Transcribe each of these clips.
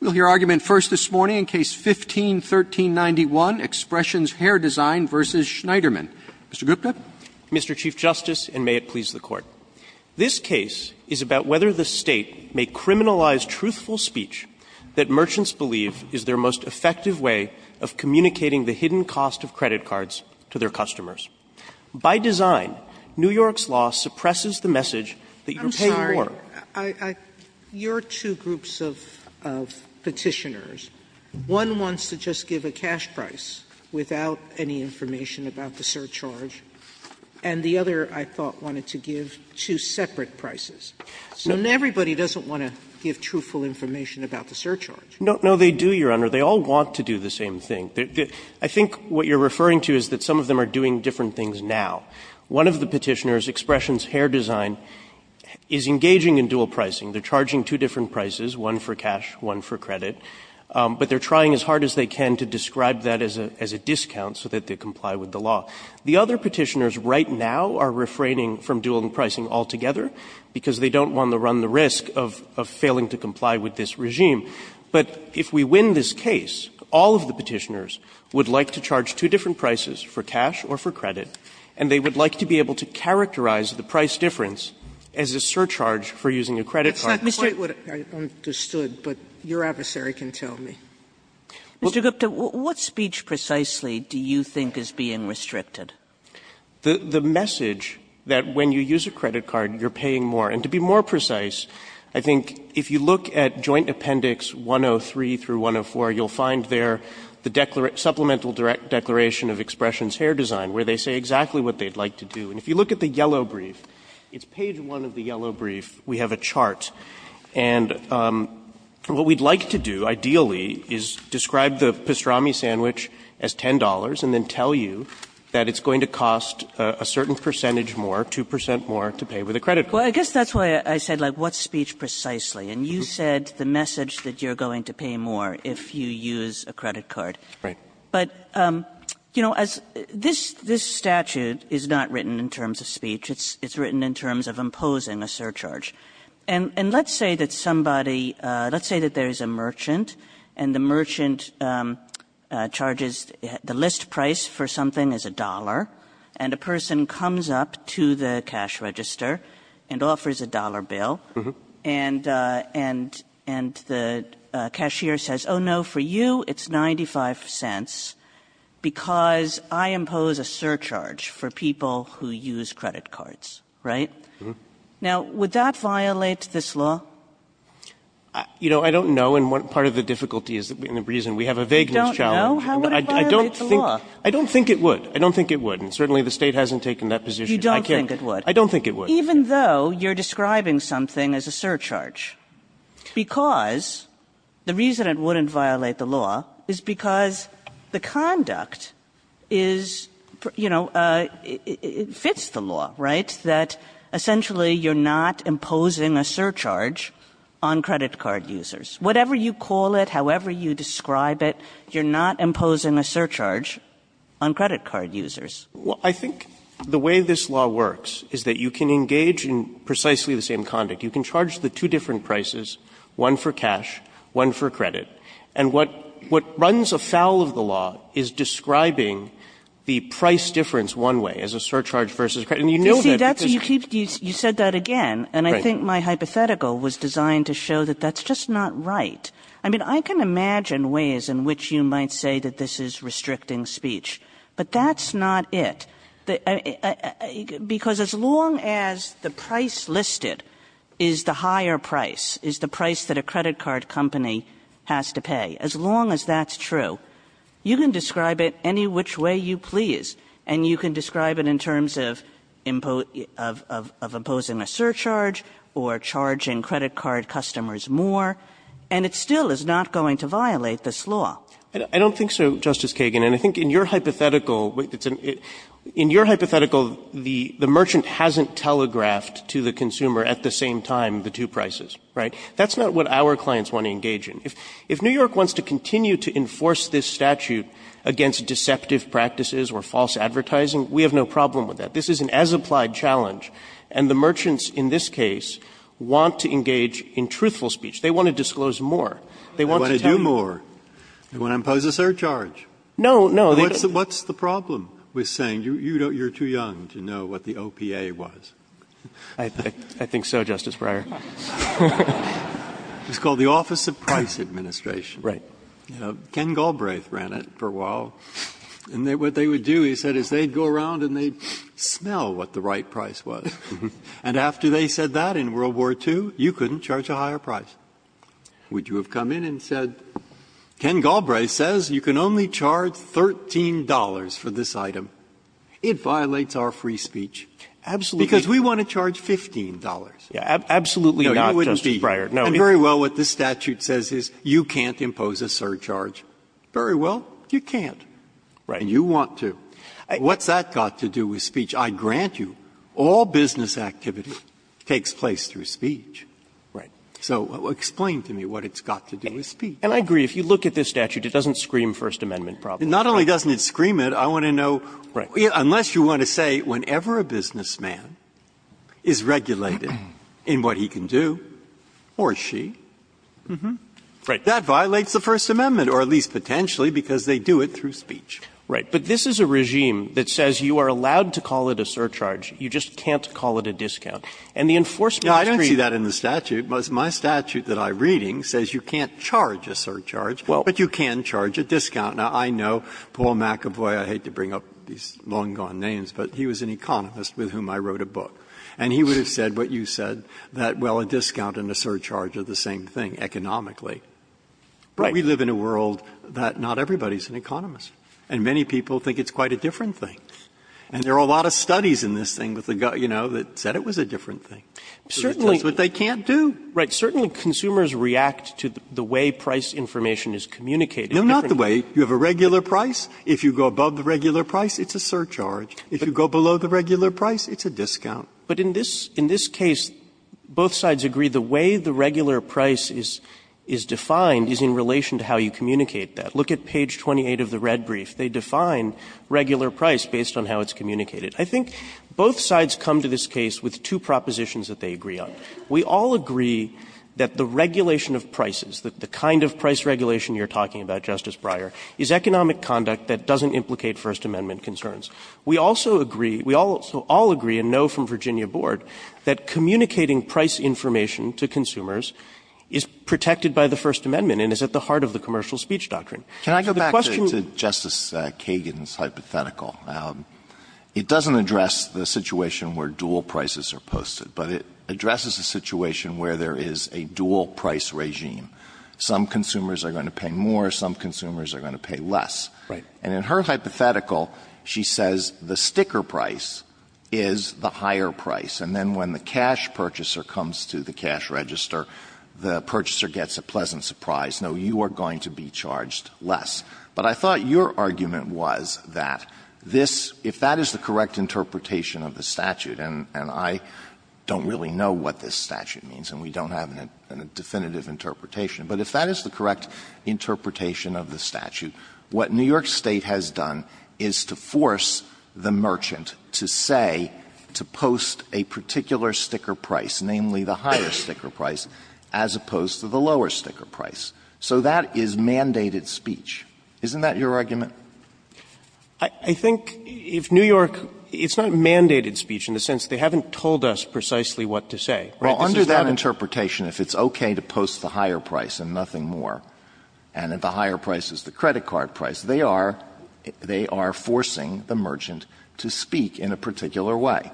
We'll hear argument first this morning in Case 15-1391, Expressions Hair Design v. Schneiderman. Mr. Gupta. Mr. Chief Justice, and may it please the Court. This case is about whether the State may criminalize truthful speech that merchants believe is their most effective way of communicating the hidden cost of credit cards to their customers. By design, New York's law suppresses the message that you pay more. Sotomayor, your two groups of Petitioners, one wants to just give a cash price without any information about the surcharge, and the other, I thought, wanted to give two separate prices. So everybody doesn't want to give truthful information about the surcharge. Schneiderman No, they do, Your Honor. They all want to do the same thing. I think what you're referring to is that some of them are doing different things now. One of the Petitioners, Expressions Hair Design, is engaging in dual pricing. They're charging two different prices, one for cash, one for credit. But they're trying as hard as they can to describe that as a discount so that they comply with the law. The other Petitioners right now are refraining from dual pricing altogether because they don't want to run the risk of failing to comply with this regime. But if we win this case, all of the Petitioners would like to charge two different prices, for cash or for credit, and they would like to be able to characterize the price difference as a surcharge for using a credit card. Sotomayor That's not quite what I understood, but your adversary can tell me. Sotomayor Mr. Gupta, what speech precisely do you think is being restricted? Gupta The message that when you use a credit card, you're paying more. And to be more precise, I think if you look at Joint Appendix 103 through 104, you'll find there the supplemental declaration of Expressions Hair Design, where they say exactly what they'd like to do. And if you look at the yellow brief, it's page 1 of the yellow brief, we have a chart. And what we'd like to do, ideally, is describe the pastrami sandwich as $10 and then tell you that it's going to cost a certain percentage more, 2 percent more, to pay with a credit card. Kagan Well, I guess that's why I said, like, what speech precisely? And you said the message that you're going to pay more if you use a credit card. But, you know, as this statute is not written in terms of speech. It's written in terms of imposing a surcharge. And let's say that somebody – let's say that there's a merchant, and the merchant charges – the list price for something is $1. And a person comes up to the cash register and offers a $1 bill. And the cashier says, oh, no, for you, it's 95 cents, because I impose a surcharge for people who use credit cards, right? Now, would that violate this law? Waxman You know, I don't know, and part of the difficulty is the reason we have a vagueness challenge. Kagan I don't know. How would it violate the law? Waxman I don't think it would. I don't think it would. And certainly, the State hasn't taken that position. I can't – Kagan You don't think it would? Waxman I don't think it would. Kagan Even though you're describing something as a surcharge, because – the reason it wouldn't violate the law is because the conduct is – you know, it fits the law, right, that essentially you're not imposing a surcharge on credit card users. Whatever you call it, however you describe it, you're not imposing a surcharge on credit card users. Roberts Well, I think the way this law works is that you can engage in precisely the same conduct. You can charge the two different prices, one for cash, one for credit. And what runs afoul of the law is describing the price difference one way, as a surcharge versus credit. And you know that because – Kagan You see, that's – you said that again. And I think my hypothetical was designed to show that that's just not right. I mean, I can imagine ways in which you might say that this is restricting speech, but that's not it. Because as long as the price listed is the higher price, is the price that a credit card company has to pay, as long as that's true, you can describe it any which way you please. And you can describe it in terms of imposing a surcharge or charging credit card customers more, and it still is not going to violate this law. Waxman I don't think so, Justice Kagan. And I think in your hypothetical, the merchant hasn't telegraphed to the consumer at the same time the two prices, right? That's not what our clients want to engage in. If New York wants to continue to enforce this statute against deceptive practices or false advertising, we have no problem with that. This is an as-applied challenge, and the merchants in this case want to engage in truthful speech. They want to disclose more. They want to tell you more. They want to impose a surcharge. What's the problem with saying you're too young to know what the OPA was? Waxman I think so, Justice Breyer. Breyer It's called the Office of Price Administration. Ken Galbraith ran it for a while. And what they would do, he said, is they'd go around and they'd smell what the right price was. And after they said that in World War II, you couldn't charge a higher price. Would you have come in and said, Ken Galbraith says you can only charge $13 for this item? It violates our free speech. Because we want to charge $15. Roberts No, absolutely not, Justice Breyer. Breyer And very well, what this statute says is you can't impose a surcharge. Very well, you can't. And you want to. What's that got to do with speech? I grant you all business activity takes place through speech. So explain to me what it's got to do with speech. Waxman And I agree. If you look at this statute, it doesn't scream First Amendment problems. Breyer Not only doesn't it scream it, I want to know, unless you want to say whenever a businessman is regulated in what he can do or she, that violates the First Amendment, or at least potentially, because they do it through speech. Waxman Right. But this is a regime that says you are allowed to call it a surcharge. And the enforcement treaty you can't call it a surcharge. Breyer But this statute, my statute that I'm reading says you can't charge a surcharge, but you can charge a discount. Now, I know Paul McAvoy, I hate to bring up these long-gone names, but he was an economist with whom I wrote a book. And he would have said what you said, that, well, a discount and a surcharge are the same thing economically. But we live in a world that not everybody is an economist, and many people think it's quite a different thing. And there are a lot of studies in this thing, you know, that said it was a different thing. But it tells what they can't do. Waxman Right. Certainly consumers react to the way price information is communicated. Breyer No, not the way. You have a regular price. If you go above the regular price, it's a surcharge. If you go below the regular price, it's a discount. Waxman But in this case, both sides agree the way the regular price is defined is in relation to how you communicate that. Look at page 28 of the red brief. They define regular price based on how it's communicated. I think both sides come to this case with two propositions that they agree on. We all agree that the regulation of prices, the kind of price regulation you're talking about, Justice Breyer, is economic conduct that doesn't implicate First Amendment concerns. We also agree, we all agree and know from Virginia Board that communicating price information to consumers is protected by the First Amendment and is at the heart of the commercial speech doctrine. Alito Can I go back to Justice Kagan's hypothetical? It doesn't address the situation where dual prices are posted, but it addresses a situation where there is a dual price regime. Some consumers are going to pay more, some consumers are going to pay less. And in her hypothetical, she says the sticker price is the higher price, and then when the cash purchaser comes to the cash register, the purchaser gets a pleasant surprise. No, you are going to be charged less. But I thought your argument was that this, if that is the correct interpretation of the statute, and I don't really know what this statute means and we don't have a definitive interpretation, but if that is the correct interpretation of the statute, what New York State has done is to force the merchant to say, to post a particular sticker price, namely the higher sticker price, as opposed to the lower sticker price. So that is mandated speech. Isn't that your argument? I think if New York, it's not mandated speech in the sense they haven't told us precisely what to say. Alito Under that interpretation, if it's okay to post the higher price and nothing more, and if the higher price is the credit card price, they are forcing the merchant to speak in a particular way.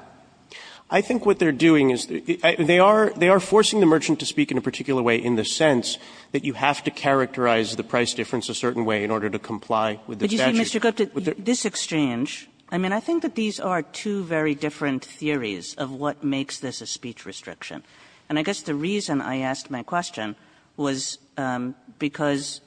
I think what they are doing is they are forcing the merchant to speak in a particular way in the sense that you have to characterize the price difference a certain way in order to comply with the statute. Kagan But you see, Mr. Gupta, this exchange, I mean, I think that these are two very different theories of what makes this a speech restriction. And I guess the reason I asked my question was because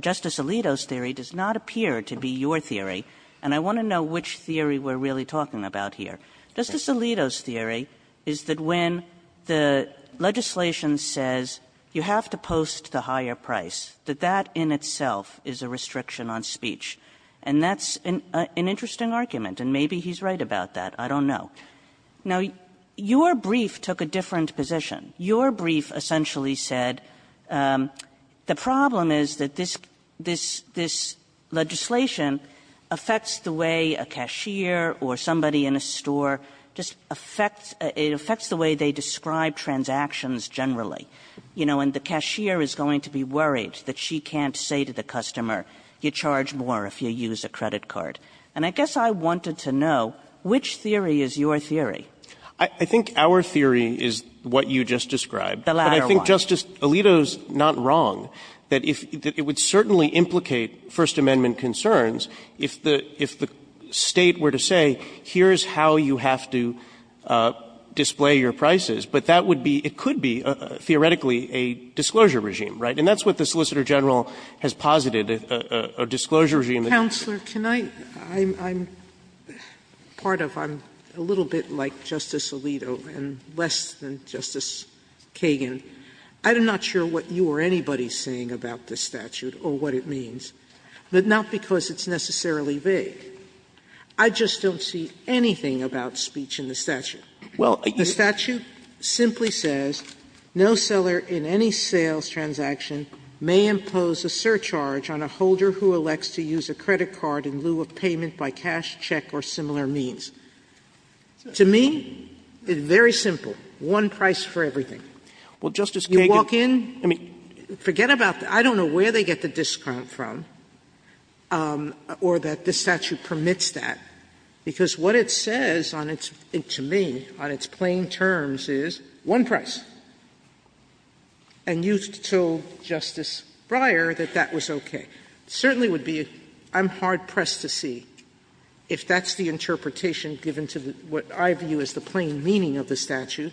Justice Alito's theory does not appear to be your theory, and I want to know which theory we are really talking about here. Justice Alito's theory is that when the legislation says you have to post the higher price, that that in itself is a restriction on speech. And that's an interesting argument, and maybe he's right about that. I don't know. Now, your brief took a different position. Your brief essentially said the problem is that this legislation affects the way a cashier or somebody in a store just affects the way they describe transactions generally. You know, and the cashier is going to be worried that she can't say to the customer, you charge more if you use a credit card. And I guess I wanted to know which theory is your theory. Gupta I think our theory is what you just described. Kagan The latter one. Gupta But I think Justice Alito's not wrong, that it would certainly implicate First Amendment concerns if the State were to say, here's how you have to display your prices. But that would be, it could be, theoretically, a disclosure regime, right? And that's what the Solicitor General has posited, a disclosure regime that you could use. Sotomayor Counselor, can I – I'm part of, I'm a little bit like Justice Alito and less than Justice Kagan. I'm not sure what you or anybody is saying about this statute or what it means. But not because it's necessarily vague. I just don't see anything about speech in the statute. The statute simply says, No seller in any sales transaction may impose a surcharge on a holder who elects to use a credit card in lieu of payment by cash, check, or similar means. To me, it's very simple, one price for everything. You walk in, forget about the – I don't know where they get the discount from. Or that this statute permits that. Because what it says on its – to me, on its plain terms, is one price. And you told Justice Breyer that that was okay. It certainly would be – I'm hard-pressed to see if that's the interpretation given to what I view as the plain meaning of the statute,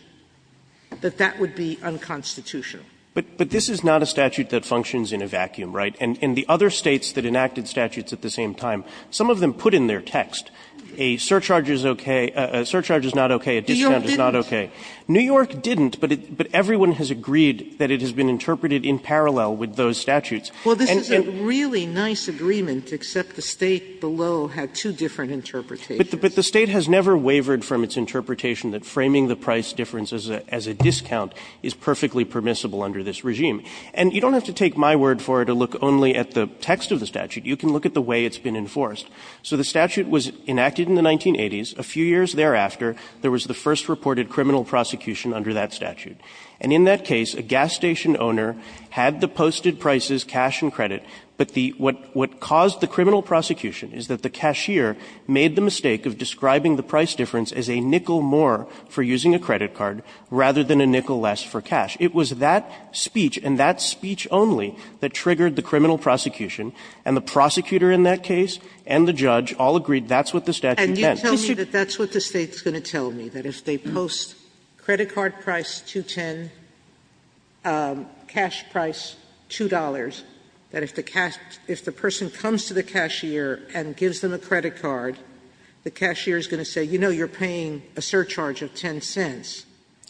that that would be unconstitutional. But this is not a statute that functions in a vacuum, right? And the other States that enacted statutes at the same time, some of them put in their text, a surcharge is okay – a surcharge is not okay, a discount is not okay. New York didn't, but everyone has agreed that it has been interpreted in parallel And it – Sotomayor Well, this is a really nice agreement, except the State below had two different interpretations. But the State has never wavered from its interpretation that framing the price difference as a discount is perfectly permissible under this regime. And you don't have to take my word for it to look only at the text of the statute. You can look at the way it's been enforced. So the statute was enacted in the 1980s. A few years thereafter, there was the first reported criminal prosecution under that statute. And in that case, a gas station owner had the posted prices, cash and credit. But the – what caused the criminal prosecution is that the cashier made the mistake of describing the price difference as a nickel more for using a credit card rather than a nickel less for cash. It was that speech, and that speech only, that triggered the criminal prosecution. And the prosecutor in that case and the judge all agreed that's what the statute meant. Sotomayor And you tell me that that's what the State's going to tell me, that if they post credit card price $2.10, cash price $2, that if the cash – if the person comes to the cashier and gives them a credit card, the cashier is going to say, you know, you're paying a surcharge of 10 cents,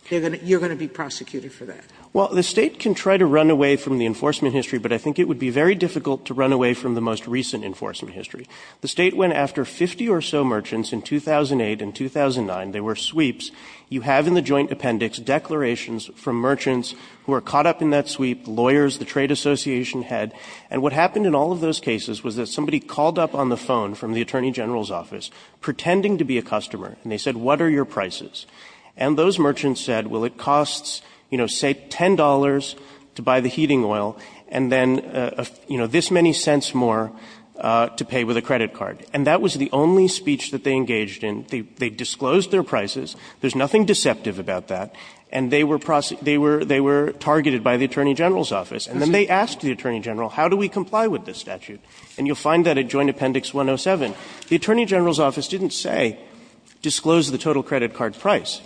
you're going to be prosecuted for that. Well, the State can try to run away from the enforcement history, but I think it would be very difficult to run away from the most recent enforcement history. The State went after 50 or so merchants in 2008 and 2009. They were sweeps. You have in the joint appendix declarations from merchants who are caught up in that sweep, lawyers, the trade association head. And what happened in all of those cases was that somebody called up on the phone from the Attorney General's office pretending to be a customer, and they said, what are your prices? And those merchants said, well, it costs, you know, say, $10 to buy the heating oil, and then, you know, this many cents more to pay with a credit card. And that was the only speech that they engaged in. They disclosed their prices. There's nothing deceptive about that. And they were – they were targeted by the Attorney General's office. And then they asked the Attorney General, how do we comply with this statute? And you'll find that at joint appendix 107. The Attorney General's office didn't say, disclose the total credit card price.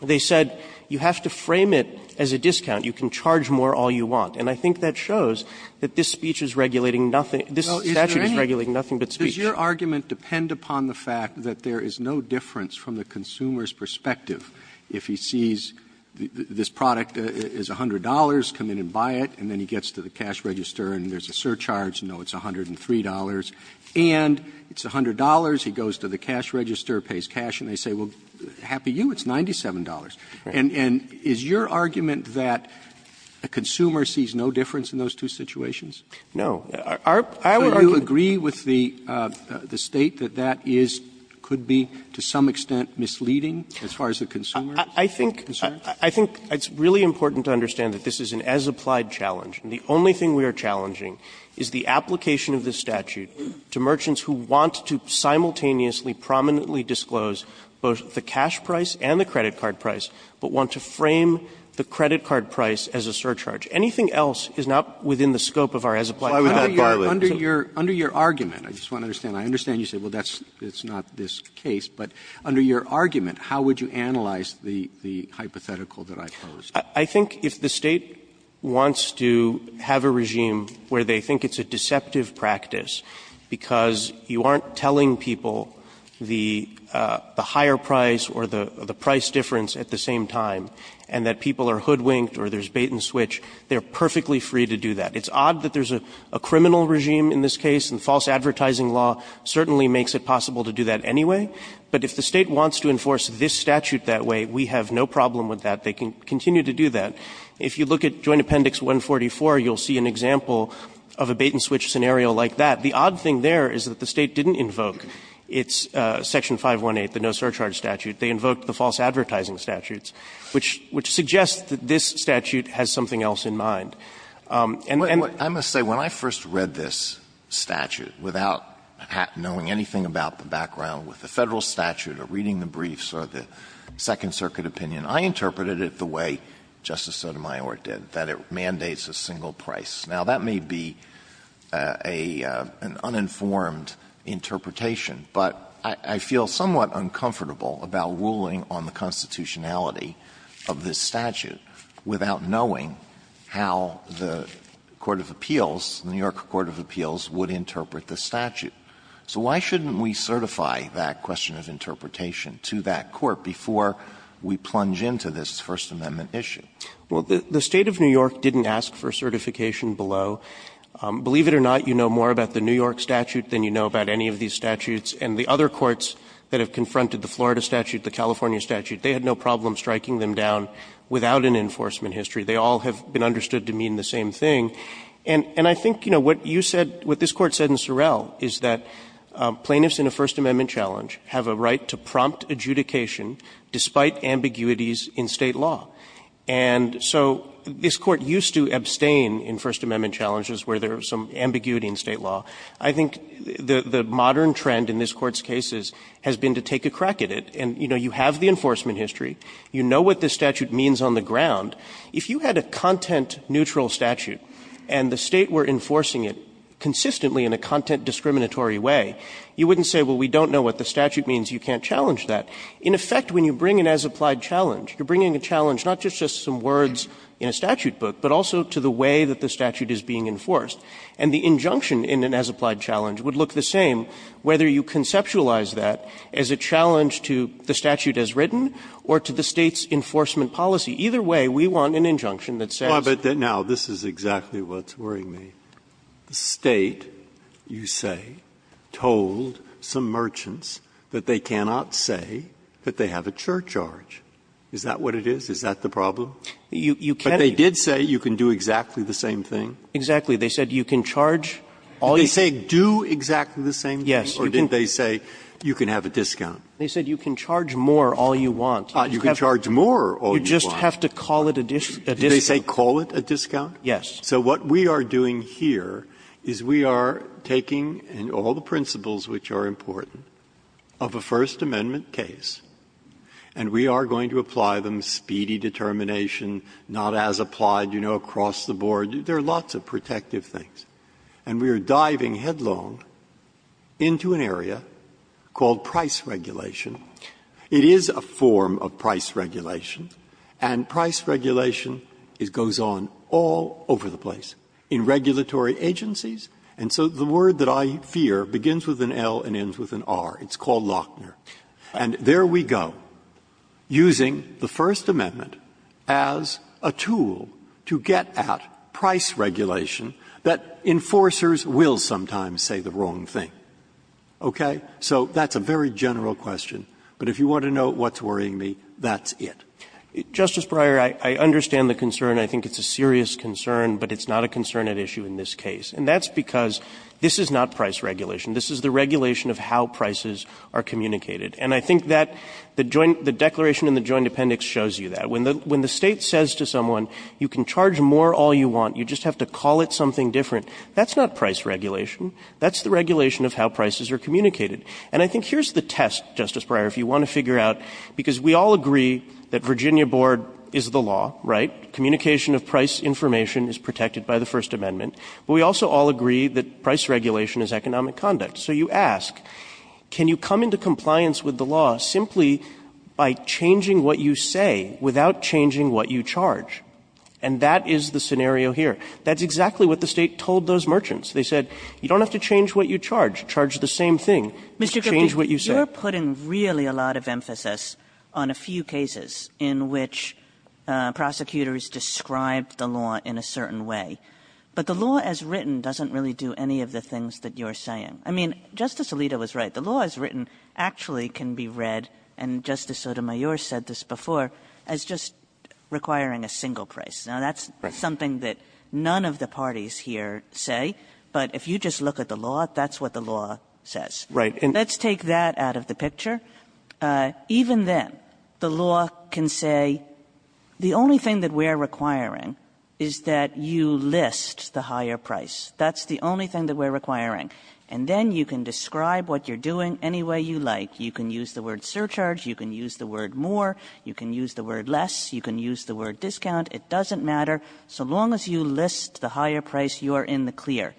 They said, you have to frame it as a discount. You can charge more all you want. And I think that shows that this speech is regulating nothing – this statute is regulating nothing but speech. Roberts Does your argument depend upon the fact that there is no difference from the consumer's perspective if he sees this product is $100, come in and buy it, and then he gets to the cash register and there's a surcharge, you know it's $103, and it's $103 and it's $100, he goes to the cash register, pays cash, and they say, well, happy you, it's $97. And is your argument that a consumer sees no difference in those two situations? Gershengorn Our – I would argue – Roberts So do you agree with the State that that is – could be, to some extent, misleading as far as the consumer is concerned? Gershengorn I think it's really important to understand that this is an as-applied challenge. And the only thing we are challenging is the application of this statute to merchants who want to simultaneously, prominently disclose both the cash price and the credit card price, but want to frame the credit card price as a surcharge. Anything else is not within the scope of our as-applied challenge. Roberts Under your – under your argument, I just want to understand, I understand you say, well, that's – it's not this case, but under your argument, how would you analyze the – the hypothetical that I posed? Gershengorn I think if the State wants to have a regime where they think it's a deceptive practice because you aren't telling people the – the higher price or the – the price difference at the same time, and that people are hoodwinked or there's bait and switch, they're perfectly free to do that. It's odd that there's a – a criminal regime in this case, and false advertising law certainly makes it possible to do that anyway. But if the State wants to enforce this statute that way, we have no problem with that. They can continue to do that. If you look at Joint Appendix 144, you'll see an example of a bait and switch scenario like that. The odd thing there is that the State didn't invoke its Section 518, the no surcharge statute. They invoked the false advertising statutes, which – which suggests that this statute has something else in mind. And then – Alito I must say, when I first read this statute, without knowing anything about the background with the Federal statute or reading the briefs or the Second Circuit opinion, I interpreted it the way Justice Sotomayor did, that it mandates a single price. Now, that may be a – an uninformed interpretation, but I – I feel somewhat uncomfortable about ruling on the constitutionality of this statute without knowing how the Court of Appeals, the New York Court of Appeals, would interpret the statute. So why shouldn't we certify that question of interpretation to that court before we plunge into this First Amendment issue? Well, the State of New York didn't ask for certification below. Believe it or not, you know more about the New York statute than you know about any of these statutes. And the other courts that have confronted the Florida statute, the California statute, they had no problem striking them down without an enforcement history. They all have been understood to mean the same thing. And – and I think, you know, what you said, what this Court said in Sorrell is that plaintiffs in a First Amendment challenge have a right to prompt adjudication despite ambiguities in State law. And so this Court used to abstain in First Amendment challenges where there was some ambiguity in State law. I think the – the modern trend in this Court's cases has been to take a crack at it. And, you know, you have the enforcement history. You know what this statute means on the ground. If you had a content-neutral statute and the State were enforcing it consistently in a content-discriminatory way, you wouldn't say, well, we don't know what the statute means, you can't challenge that. In effect, when you bring an as-applied challenge, you're bringing a challenge not just to some words in a statute book, but also to the way that the statute is being enforced. And the injunction in an as-applied challenge would look the same whether you conceptualize that as a challenge to the statute as written or to the State's enforcement policy. Either way, we want an injunction that says – Breyer, but now this is exactly what's worrying me. The State, you say, told some merchants that they cannot say that they have a surcharge. Is that what it is? Is that the problem? You can't do that. But they did say you can do exactly the same thing. Exactly. They said you can charge all you want. Did they say do exactly the same thing? Yes. Or did they say you can have a discount? They said you can charge more all you want. You can charge more all you want. You just have to call it a discount. Did they say call it a discount? Yes. Breyer, so what we are doing here is we are taking all the principles which are important of a First Amendment case, and we are going to apply them, speedy determination, not as applied, you know, across the board. There are lots of protective things. And we are diving headlong into an area called price regulation. It is a form of price regulation, and price regulation goes on all over the place, in regulatory agencies. And so the word that I fear begins with an L and ends with an R. It's called Lochner. And there we go, using the First Amendment as a tool to get at price regulation that enforcers will sometimes say the wrong thing, okay? So that's a very general question. But if you want to know what's worrying me, that's it. Justice Breyer, I understand the concern. I think it's a serious concern, but it's not a concern at issue in this case. And that's because this is not price regulation. This is the regulation of how prices are communicated. And I think that the joint the declaration in the Joint Appendix shows you that. When the State says to someone, you can charge more all you want, you just have to call it something different, that's not price regulation. That's the regulation of how prices are communicated. And I think here's the test, Justice Breyer, if you want to figure out, because we all agree that Virginia board is the law, right? Communication of price information is protected by the First Amendment. But we also all agree that price regulation is economic conduct. So you ask, can you come into compliance with the law simply by changing what you say without changing what you charge? And that is the scenario here. That's exactly what the state told those merchants. They said, you don't have to change what you charge. Charge the same thing. Just change what you say. Kagan, you're putting really a lot of emphasis on a few cases in which prosecutors described the law in a certain way. But the law as written doesn't really do any of the things that you're saying. I mean, Justice Alito was right. The law as written actually can be read, and Justice Sotomayor said this before, as just requiring a single price. Now that's something that none of the parties here say. But if you just look at the law, that's what the law says. Let's take that out of the picture. Even then, the law can say, the only thing that we're requiring is that you list the higher price. That's the only thing that we're requiring. And then you can describe what you're doing any way you like. You can use the word surcharge. You can use the word more. You can use the word less. You can use the word discount. It doesn't matter, so long as you list the higher price, you're in the clear.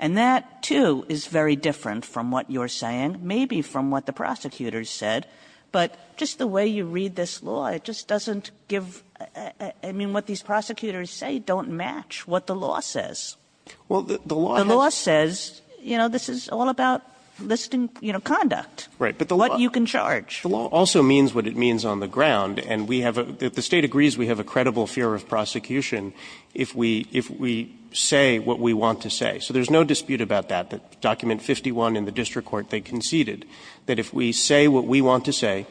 And that, too, is very different from what you're saying, maybe from what the prosecutors said, but just the way you read this law, it just doesn't give, I mean, what these prosecutors say don't match what the law says. The law says, this is all about listing conduct, what you can charge. The law also means what it means on the ground, and the State agrees we have a credible fear of prosecution if we say what we want to say. So there's no dispute about that, that Document 51 in the district court, they conceded that if we say what we want to say,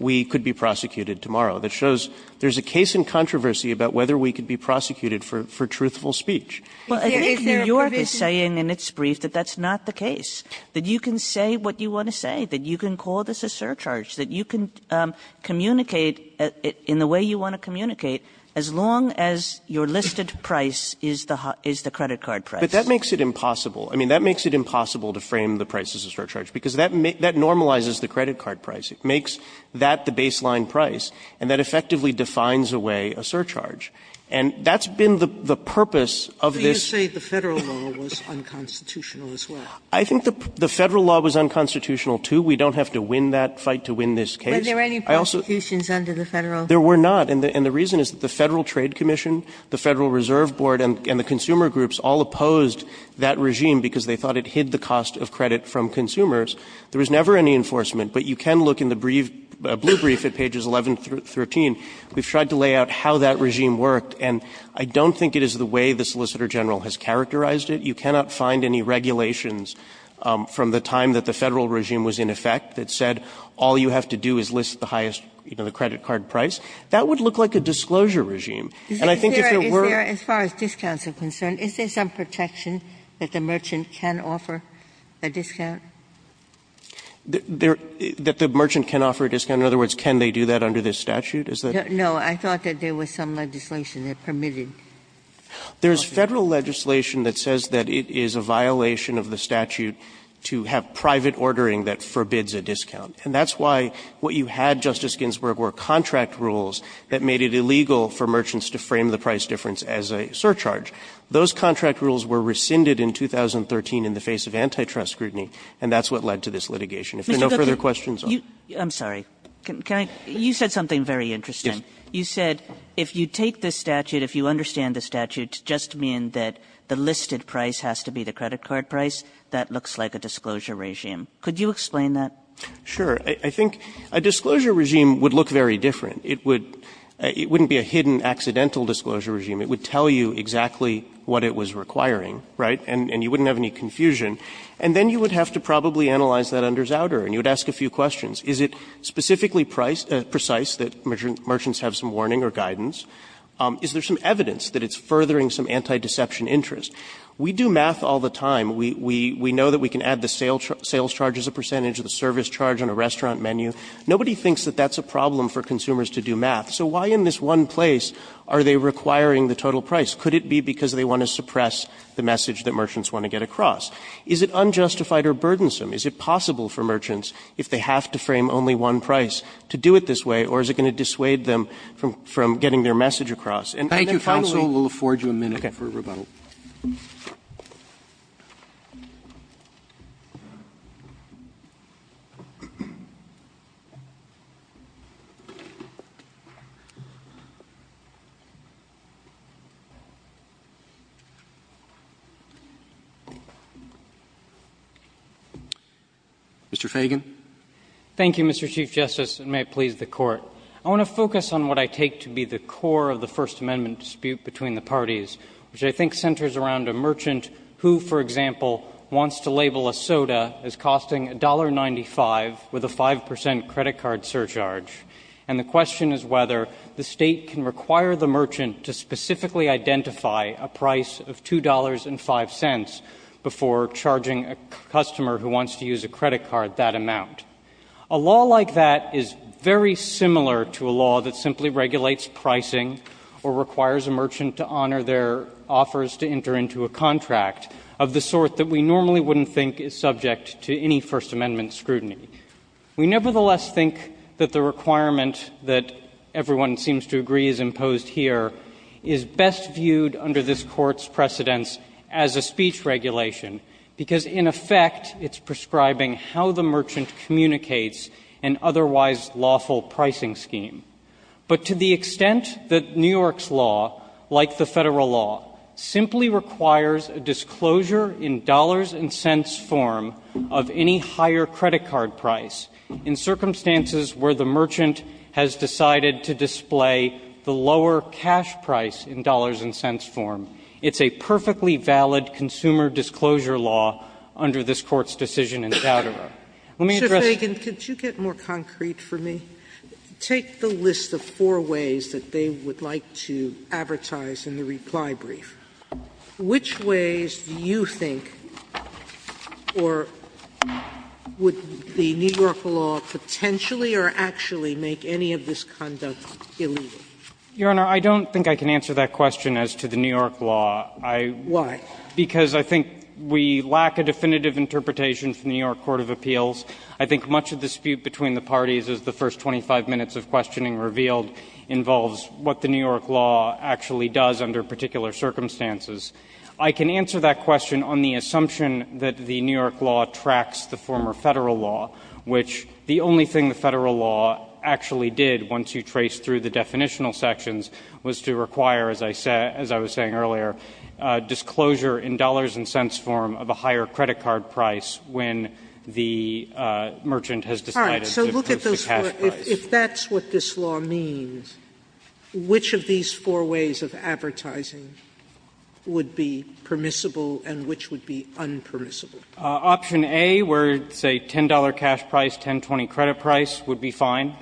we could be prosecuted tomorrow. That shows there's a case in controversy about whether we could be prosecuted for truthful speech. Well, I think New York is saying in its brief that that's not the case, that you can say what you want to say, that you can call this a surcharge, that you can communicate in the way you want to communicate as long as your listed price is the credit card price. But that makes it impossible. I mean, that makes it impossible to frame the price as a surcharge because that normalizes the credit card price. It makes that the baseline price, and that effectively defines away a surcharge. And that's been the purpose of this. Sotomayor, you say the Federal law was unconstitutional as well. I think the Federal law was unconstitutional, too. We don't have to win that fight to win this case. I also – Were there any prosecutions under the Federal – There were not. And the reason is that the Federal Trade Commission, the Federal Reserve Board, and the consumer groups all opposed that regime because they thought it hid the cost of credit from consumers. There was never any enforcement. But you can look in the brief, blue brief at pages 11 through 13. We've tried to lay out how that regime worked. And I don't think it is the way the Solicitor General has characterized it. You cannot find any regulations from the time that the Federal regime was in effect that said all you have to do is list the highest, you know, the credit card price. That would look like a disclosure regime. And I think if it were – Is there – as far as discounts are concerned, is there some protection that the merchant can offer a discount? That the merchant can offer a discount? In other words, can they do that under this statute? Is that – No. I thought that there was some legislation that permitted. There is Federal legislation that says that it is a violation of the statute to have private ordering that forbids a discount. And that's why what you had, Justice Ginsburg, were contract rules that made it illegal for merchants to frame the price difference as a surcharge. Those contract rules were rescinded in 2013 in the face of antitrust scrutiny, and that's what led to this litigation. If there are no further questions, I'll stop. Kagan. Kagan. I'm sorry. Can I – you said something very interesting. Yes. You said if you take this statute, if you understand the statute, to just mean that the listed price has to be the credit card price, that looks like a disclosure regime. Could you explain that? Sure. I think a disclosure regime would look very different. It would – it wouldn't be a hidden, accidental disclosure regime. It would tell you exactly what it was requiring, right? And you wouldn't have any confusion. And then you would have to probably analyze that under Zowder, and you would ask a few questions. Is it specifically price – precise, that merchants have some warning or guidance? Is there some evidence that it's furthering some anti-deception interest? We do math all the time. We know that we can add the sales charge as a percentage, the service charge on a restaurant menu. Nobody thinks that that's a problem for consumers to do math. So why in this one place are they requiring the total price? Could it be because they want to suppress the message that merchants want to get across? Is it unjustified or burdensome? Is it possible for merchants, if they have to frame only one price, to do it this way, or is it going to dissuade them from getting their message across? And then finally – Thank you, counsel. We'll afford you a minute for rebuttal. Mr. Feigin. Thank you, Mr. Chief Justice, and may it please the Court. I want to focus on what I take to be the core of the First Amendment dispute between the parties, which I think centers around a merchant who, for example, wants to label a soda as costing $1.95 with a 5 percent credit card surcharge. And the question is whether the State can require the merchant to specifically identify a price of $2.05 before charging a customer who wants to use a credit card that amount. A law like that is very similar to a law that simply regulates pricing or requires a merchant to honor their offers to enter into a contract of the sort that we normally wouldn't think is subject to any First Amendment scrutiny. We nevertheless think that the requirement that everyone seems to agree is imposed here is best viewed under this Court's precedence as a speech regulation, because in effect it's prescribing how the merchant communicates an otherwise lawful pricing scheme. But to the extent that New York's law, like the Federal law, simply requires a disclosure in dollars and cents form of any higher credit card price in circumstances where the merchant has decided to display the lower cash price in dollars and cents form, it's a perfectly valid consumer disclosure law under this Court's decision in Coudera. Let me address the other point. Sotomayor, could you get more concrete for me? Take the list of four ways that they would like to advertise in the reply brief. Which ways do you think or would the New York law potentially or actually make any of this conduct illegal? Your Honor, I don't think I can answer that question as to the New York law. I don't think we lack a definitive interpretation from the New York Court of Appeals. I think much of the dispute between the parties, as the first 25 minutes of questioning revealed, involves what the New York law actually does under particular circumstances. I can answer that question on the assumption that the New York law tracks the former Federal law, which the only thing the Federal law actually did, once you trace through the definitional sections, was to require, as I was saying earlier, disclosure in dollars and cents form of a higher credit card price when the merchant has decided to increase the cash price. Sotomayor, if that's what this law means, which of these four ways of advertising would be permissible and which would be unpermissible? Option A, where it's a $10 cash price, $10.20 credit price, would be fine.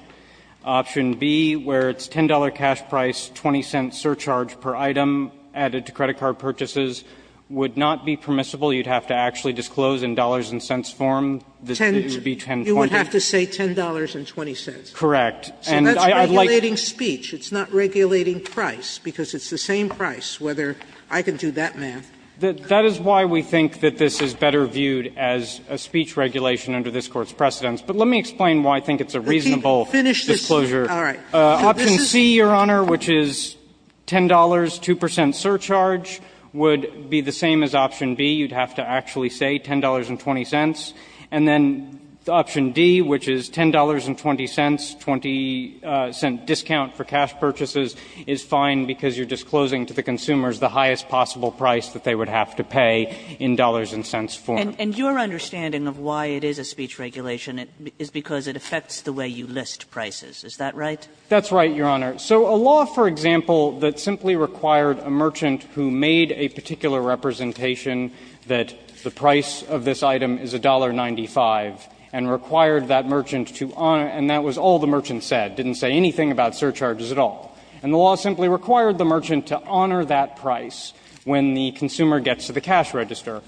Option B, where it's $10 cash price, $0.20 surcharge per item added to credit card purchases, would not be permissible. You'd have to actually disclose in dollars and cents form. This would be $10.20. Sotomayor, you would have to say $10.20. Correct. And I'd like to say that's regulating speech. It's not regulating price, because it's the same price, whether I can do that math. That is why we think that this is better viewed as a speech regulation under this Court's precedents. But let me explain why I think it's a reasonable disclosure. Option C, Your Honor, which is $10, 2 percent surcharge, would be the same as option B. You'd have to actually say $10.20. And then option D, which is $10.20, 20-cent discount for cash purchases, is fine because you're disclosing to the consumers the highest possible price that they would have to pay in dollars and cents form. And your understanding of why it is a speech regulation is because it affects the way you list prices. Is that right? That's right, Your Honor. So a law, for example, that simply required a merchant who made a particular representation that the price of this item is $1.95 and required that merchant to honor and that was all the merchant said, didn't say anything about surcharges at all. And the law simply required the merchant to honor that price when the consumer gets to the cash register.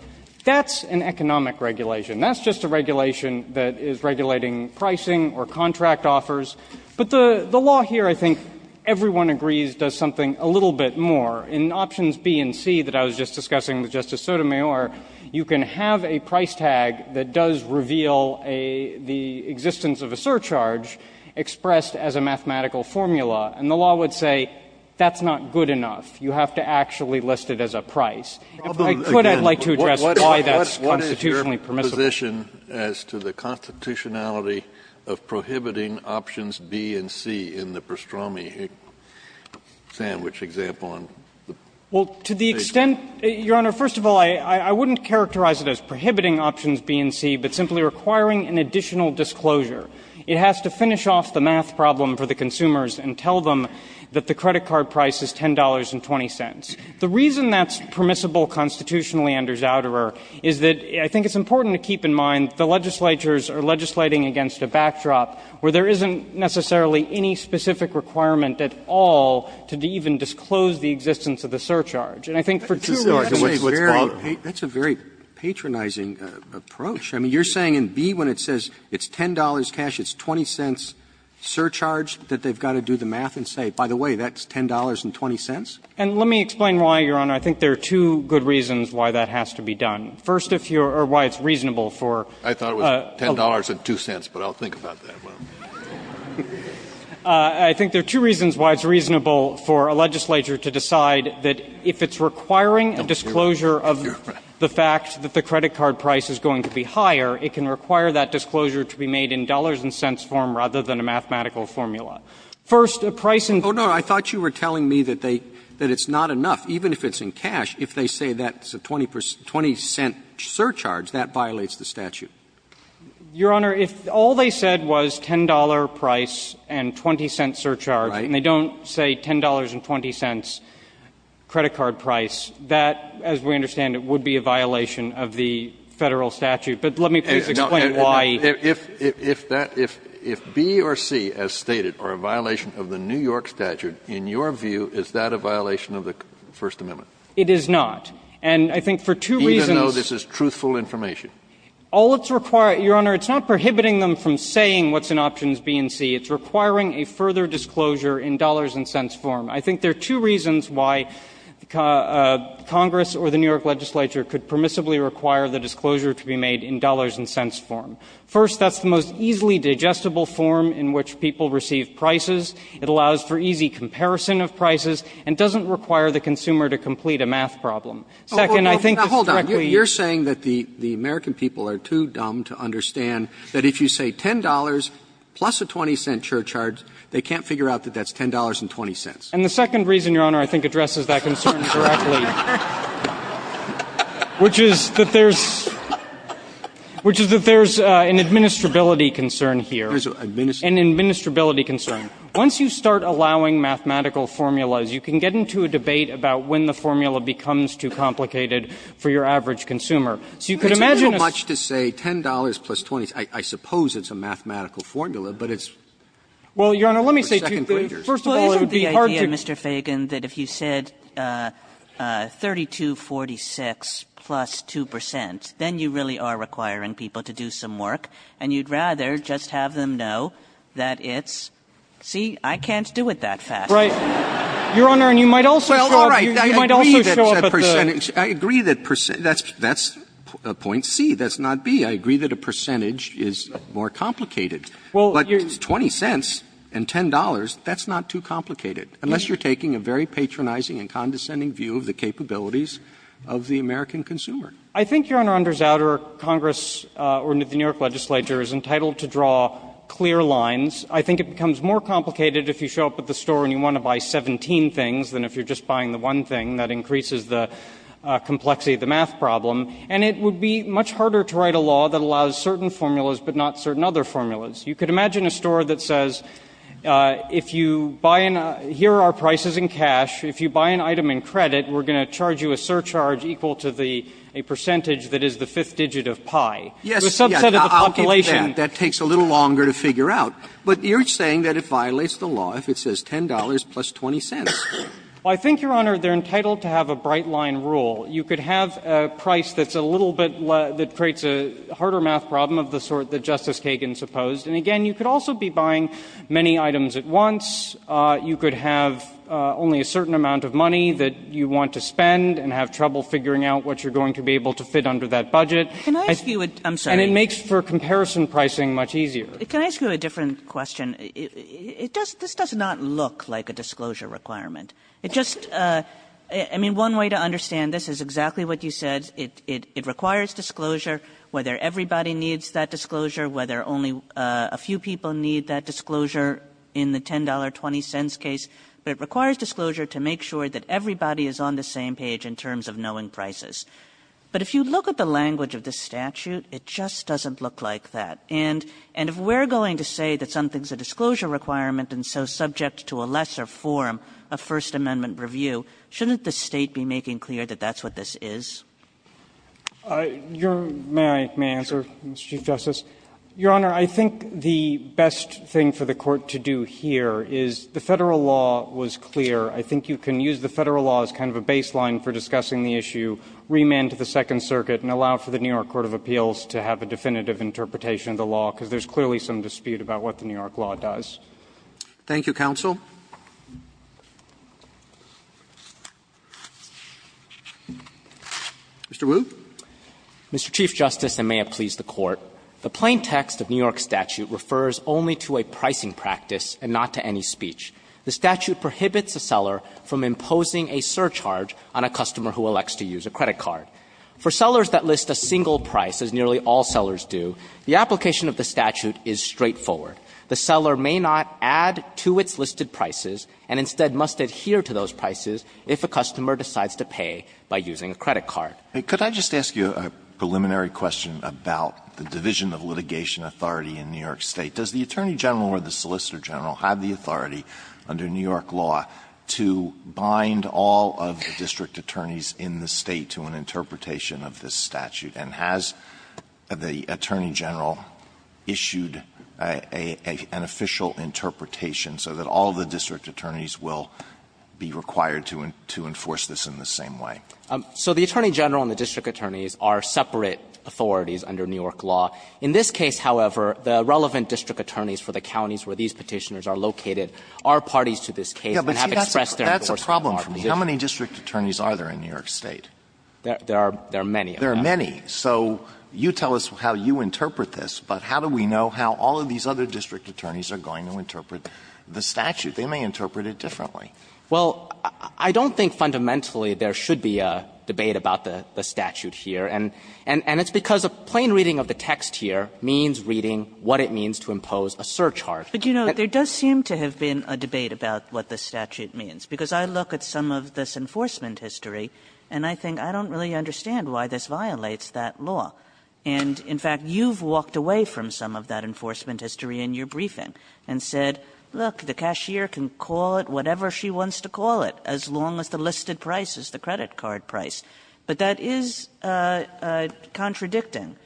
That's an economic regulation. That's just a regulation that is regulating pricing or contract offers. But the law here, I think, everyone agrees, does something a little bit more. In options B and C that I was just discussing with Justice Sotomayor, you can have a price tag that does reveal the existence of a surcharge expressed as a mathematical formula. And the law would say that's not good enough. You have to actually list it as a price. If I could, I'd like to address why that's constitutionally permissible. Kennedy, do you have a position as to the constitutionality of prohibiting options B and C in the Pastrami sandwich example on the page? Well, to the extent, Your Honor, first of all, I wouldn't characterize it as prohibiting options B and C, but simply requiring an additional disclosure. It has to finish off the math problem for the consumers and tell them that the credit card price is $10.20. The reason that's permissible constitutionally under Zouderer is that I think it's important to keep in mind the legislatures are legislating against a backdrop where there isn't necessarily any specific requirement at all to even disclose the existence of the surcharge. And I think for two reasons. That's a very patronizing approach. I mean, you're saying in B when it says it's $10 cash, it's $0.20 surcharge that they've got to do the math and say, by the way, that's $10.20? And let me explain why, Your Honor. I think there are two good reasons why that has to be done. First, if you're or why it's reasonable for a legislature to decide that if it's requiring a disclosure of the fact that the credit card price is going to be higher, it can require that disclosure to be made in dollars and cents form rather than a mathematical formula. First, a price in cash is not enough, even if it's in cash, if they say that it's $10 and $0.20 surcharge, that violates the statute. Your Honor, if all they said was $10 price and $0.20 surcharge, and they don't say $10 and $0.20 credit card price, that, as we understand it, would be a violation of the Federal statute. But let me please explain why. If that, if B or C, as stated, are a violation of the New York statute, in your view, is that a violation of the First Amendment? It is not. And I think for two reasons. Kennedy, even though this is truthful information. All it's requiring, Your Honor, it's not prohibiting them from saying what's in options B and C. It's requiring a further disclosure in dollars and cents form. I think there are two reasons why Congress or the New York legislature could permissibly require the disclosure to be made in dollars and cents form. First, that's the most easily digestible form in which people receive prices. It allows for easy comparison of prices and doesn't require the consumer to complete a math problem. Second, I think this directly to you. Roberts, you're saying that the American people are too dumb to understand that if you say $10 plus a $0.20 surcharge, they can't figure out that that's $10 and $0.20. And the second reason, Your Honor, I think addresses that concern directly. Which is that there's, which is that there's an administrability concern here. An administrability concern. Once you start allowing mathematical formulas, you can get into a debate about when the formula becomes too complicated for your average consumer. So you could imagine a sort of question. Roberts, it's too much to say $10 plus $0.20. I suppose it's a mathematical formula, but it's for second-graders. First of all, it would be hard to do that. Kagan, that if you said $32.46 plus 2 percent, then you really are requiring people to do some work, and you'd rather just have them know that it's, see, I can't do it that fast. Right. Your Honor, and you might also start. Well, all right. I agree that percentage. I agree that that's point C, that's not B. I agree that a percentage is more complicated. But $0.20 and $10, that's not too complicated, unless you're taking a very patronizing and condescending view of the capabilities of the American consumer. I think, Your Honor, under Zauder, Congress or the New York legislature is entitled to draw clear lines. I think it becomes more complicated if you show up at the store and you want to buy 17 things than if you're just buying the one thing. That increases the complexity of the math problem. And it would be much harder to write a law that allows certain formulas but not certain other formulas. You could imagine a store that says, if you buy an – here are our prices in cash. If you buy an item in credit, we're going to charge you a surcharge equal to the percentage that is the fifth digit of pi. The subset of the population – Yes, I'll give you that. That takes a little longer to figure out. But you're saying that it violates the law if it says $10 plus $0.20. Well, I think, Your Honor, they're entitled to have a bright-line rule. You could have a price that's a little bit – that creates a harder math problem of the sort that Justice Kagan supposed. And, again, you could also be buying many items at once. You could have only a certain amount of money that you want to spend and have trouble figuring out what you're going to be able to fit under that budget. And it makes for comparison pricing much easier. Can I ask you a different question? It does – this does not look like a disclosure requirement. It just – I mean, one way to understand this is exactly what you said. It requires disclosure, whether everybody needs that disclosure, whether only a few people need that disclosure in the $10.20 case. But it requires disclosure to make sure that everybody is on the same page in terms of knowing prices. But if you look at the language of the statute, it just doesn't look like that. And if we're going to say that something's a disclosure requirement and so subject to a lesser form of First Amendment review, shouldn't the State be making clear that that's what this is? You're – may I answer, Mr. Chief Justice? Your Honor, I think the best thing for the Court to do here is the Federal law was clear. I think you can use the Federal law as kind of a baseline for discussing the issue, remand to the Second Circuit, and allow for the New York Court of Appeals to have a definitive interpretation of the law, because there's clearly some dispute about what the New York law does. Robertson, Thank you, counsel. Mr. Wu. Wu, Mr. Chief Justice, and may it please the Court. The plain text of New York's statute refers only to a pricing practice and not to any speech. The statute prohibits a seller from imposing a surcharge on a customer who elects to use a credit card. For sellers that list a single price, as nearly all sellers do, the application of the statute is straightforward. The seller may not add to its listed prices and instead must adhere to those prices if a customer decides to pay by using a credit card. Alito, could I just ask you a preliminary question about the division of litigation authority in New York State? Does the Attorney General or the Solicitor General have the authority under New York law to bind all of the district attorneys in the State to an interpretation of this statute? And has the Attorney General issued an official interpretation so that all of the district attorneys will be required to enforce this in the same way? So the Attorney General and the district attorneys are separate authorities under New York law. In this case, however, the relevant district attorneys for the counties where these cases have expressed their enforcement authority. Alito, that's a problem for me. How many district attorneys are there in New York State? There are many. There are many. So you tell us how you interpret this, but how do we know how all of these other district attorneys are going to interpret the statute? They may interpret it differently. Well, I don't think fundamentally there should be a debate about the statute here, and it's because a plain reading of the text here means reading what it means to impose a surcharge. But, you know, there does seem to have been a debate about what the statute means, because I look at some of this enforcement history and I think I don't really understand why this violates that law. And, in fact, you've walked away from some of that enforcement history in your briefing and said, look, the cashier can call it whatever she wants to call it, as long as the listed price is the credit card price. But that is contradicting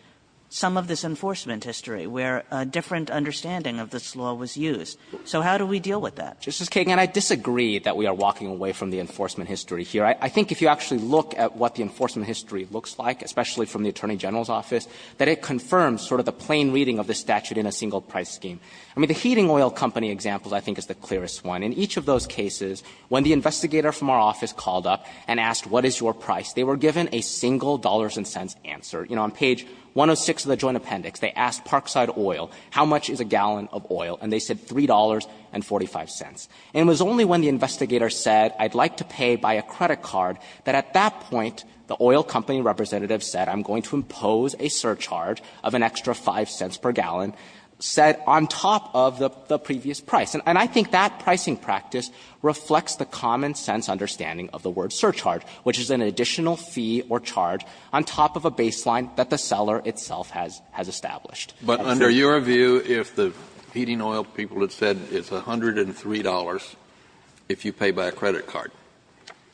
some of this enforcement history, where a different understanding of this law was used. So how do we deal with that? Justice Kagan, I disagree that we are walking away from the enforcement history here. I think if you actually look at what the enforcement history looks like, especially from the Attorney General's office, that it confirms sort of the plain reading of the statute in a single price scheme. I mean, the heating oil company example, I think, is the clearest one. In each of those cases, when the investigator from our office called up and asked what is your price, they were given a single dollars and cents answer. You know, on page 106 of the Joint Appendix, they asked Parkside Oil, how much is a gallon of oil, and they said $3.45. And it was only when the investigator said, I'd like to pay by a credit card, that at that point, the oil company representative said, I'm going to impose a surcharge of an extra 5 cents per gallon, said on top of the previous price. And I think that pricing practice reflects the common-sense understanding of the word surcharge, which is an additional fee or charge on top of a baseline that the seller itself has established. Kennedy, but under your view, if the heating oil people had said it's $103 if you pay by a credit card,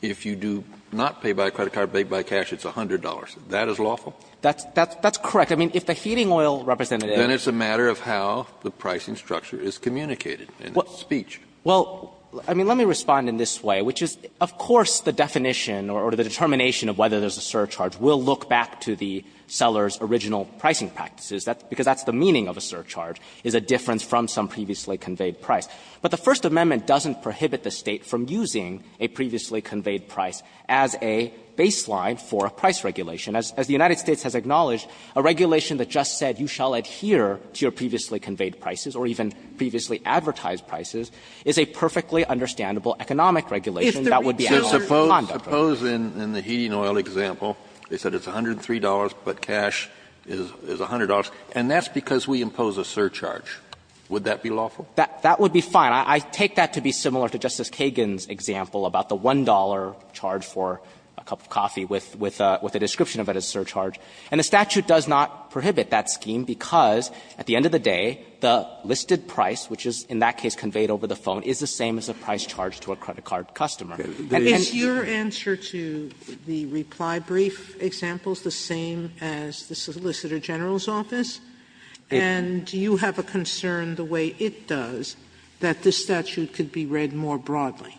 if you do not pay by a credit card, pay by cash, it's $100, that is lawful? That's correct. I mean, if the heating oil representative said that. Then it's a matter of how the pricing structure is communicated in its speech. Well, I mean, let me respond in this way, which is, of course, the definition or the determination of whether there's a surcharge, we'll look back to the seller's original pricing practices, because that's the meaning of a surcharge, is a difference from some previously conveyed price. But the First Amendment doesn't prohibit the State from using a previously conveyed price as a baseline for a price regulation. As the United States has acknowledged, a regulation that just said you shall adhere to your previously conveyed prices or even previously advertised prices is a perfectly understandable economic regulation that would be analogous to a condom. Kennedy Suppose in the heating oil example, they said it's $103, but cash is $100, and that's because we impose a surcharge. Would that be lawful? That would be fine. I take that to be similar to Justice Kagan's example about the $1 charge for a cup of coffee with a description of it as a surcharge. And the statute does not prohibit that scheme because at the end of the day, the listed price, which is in that case conveyed over the phone, is the same as a price charged to a credit card customer. And then you're answer to the reply brief example is the same as the Solicitor General's office? And do you have a concern the way it does that this statute could be read more broadly?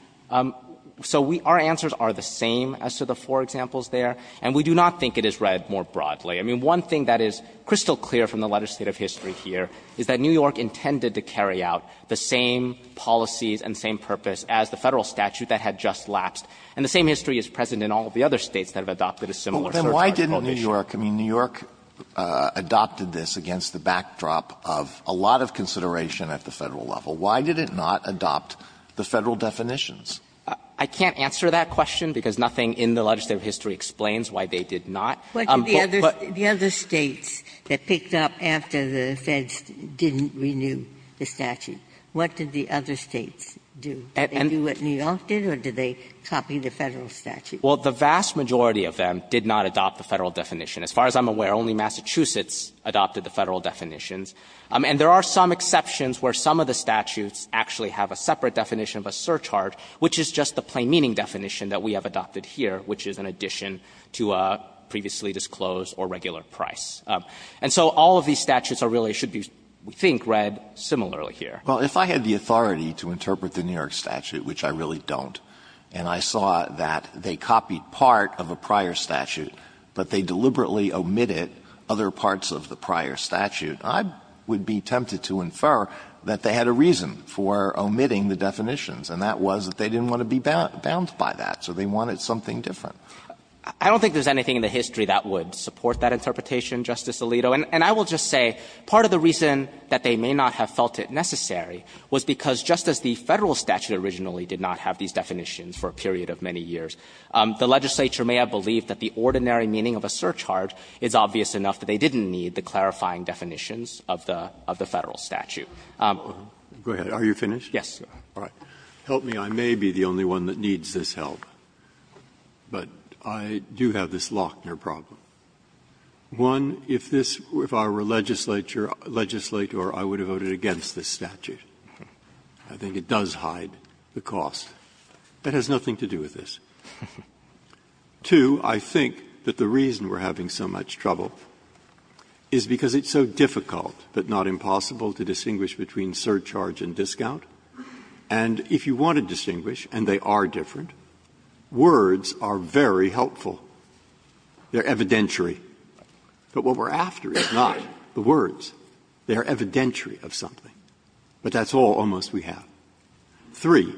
So we – our answers are the same as to the four examples there, and we do not think it is read more broadly. I mean, one thing that is crystal clear from the legislative history here is that this statute does not carry out the same policies and same purpose as the Federal statute that had just lapsed. And the same history is present in all of the other States that have adopted a similar surcharge provision. Alitoso, then why didn't New York – I mean, New York adopted this against the backdrop of a lot of consideration at the Federal level. Why did it not adopt the Federal definitions? I can't answer that question because nothing in the legislative history explains why they did not. But the other States that picked up after the Feds didn't renew the statute. What did the other States do? Did they do what New York did, or did they copy the Federal statute? Well, the vast majority of them did not adopt the Federal definition. As far as I'm aware, only Massachusetts adopted the Federal definitions. And there are some exceptions where some of the statutes actually have a separate definition of a surcharge, which is just the plain meaning definition that we have And so all of these statutes are really – should be, we think, read similarly Alitoso, if I had the authority to interpret the New York statute, which I really don't, and I saw that they copied part of a prior statute, but they deliberately omitted other parts of the prior statute, I would be tempted to infer that they had a reason for omitting the definitions, and that was that they didn't want to be bound by that, so they wanted something different. I don't think there's anything in the history that would support that interpretation, Justice Alito. And I will just say, part of the reason that they may not have felt it necessary was because, just as the Federal statute originally did not have these definitions for a period of many years, the legislature may have believed that the ordinary meaning of a surcharge is obvious enough that they didn't need the clarifying Breyer, are you finished? Yes. Breyer, help me, I may be the only one that needs this help, but I do have this Lochner problem. One, if this – if I were a legislator, I would have voted against this statute. I think it does hide the cost. That has nothing to do with this. Two, I think that the reason we're having so much trouble is because it's so difficult, but not impossible, to distinguish between surcharge and discount. And if you want to distinguish, and they are different, words are very helpful. They're evidentiary. But what we're after is not the words. They are evidentiary of something. But that's all, almost, we have. Three,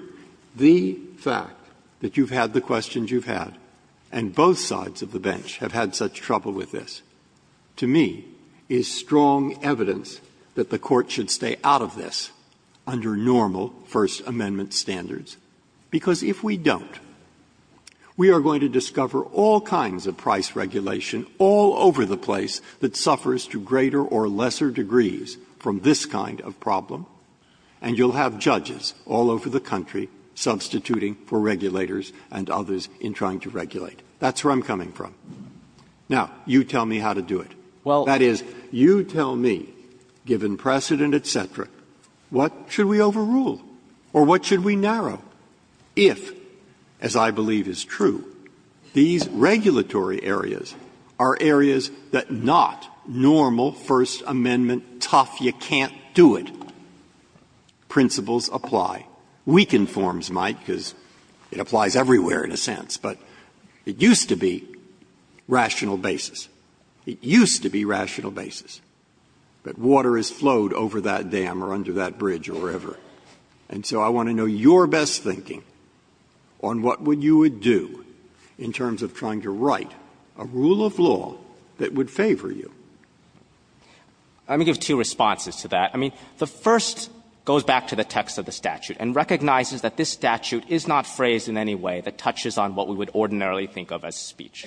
the fact that you've had the questions you've had, and both sides of the bench have had such trouble with this, to me, is strong evidence that the Court should stay out of this under normal First Amendment standards. Because if we don't, we are going to discover all kinds of price regulation all over the place that suffers to greater or lesser degrees from this kind of problem, and you'll have judges all over the country substituting for regulators and others in trying to regulate. That's where I'm coming from. Now, you tell me how to do it. That is, you tell me, given precedent, et cetera, what should we overrule or what should we narrow if, as I believe is true, these regulatory areas are areas that not normal First Amendment, tough, you can't do it, principles apply. Weakened forms might, because it applies everywhere in a sense, but it used to be rational basis. It used to be rational basis. But water has flowed over that dam or under that bridge or wherever. And so I want to know your best thinking on what you would do in terms of trying to write a rule of law that would favor you. I'm going to give two responses to that. I mean, the first goes back to the text of the statute and recognizes that this statute is not phrased in any way that touches on what we would ordinarily think of as speech.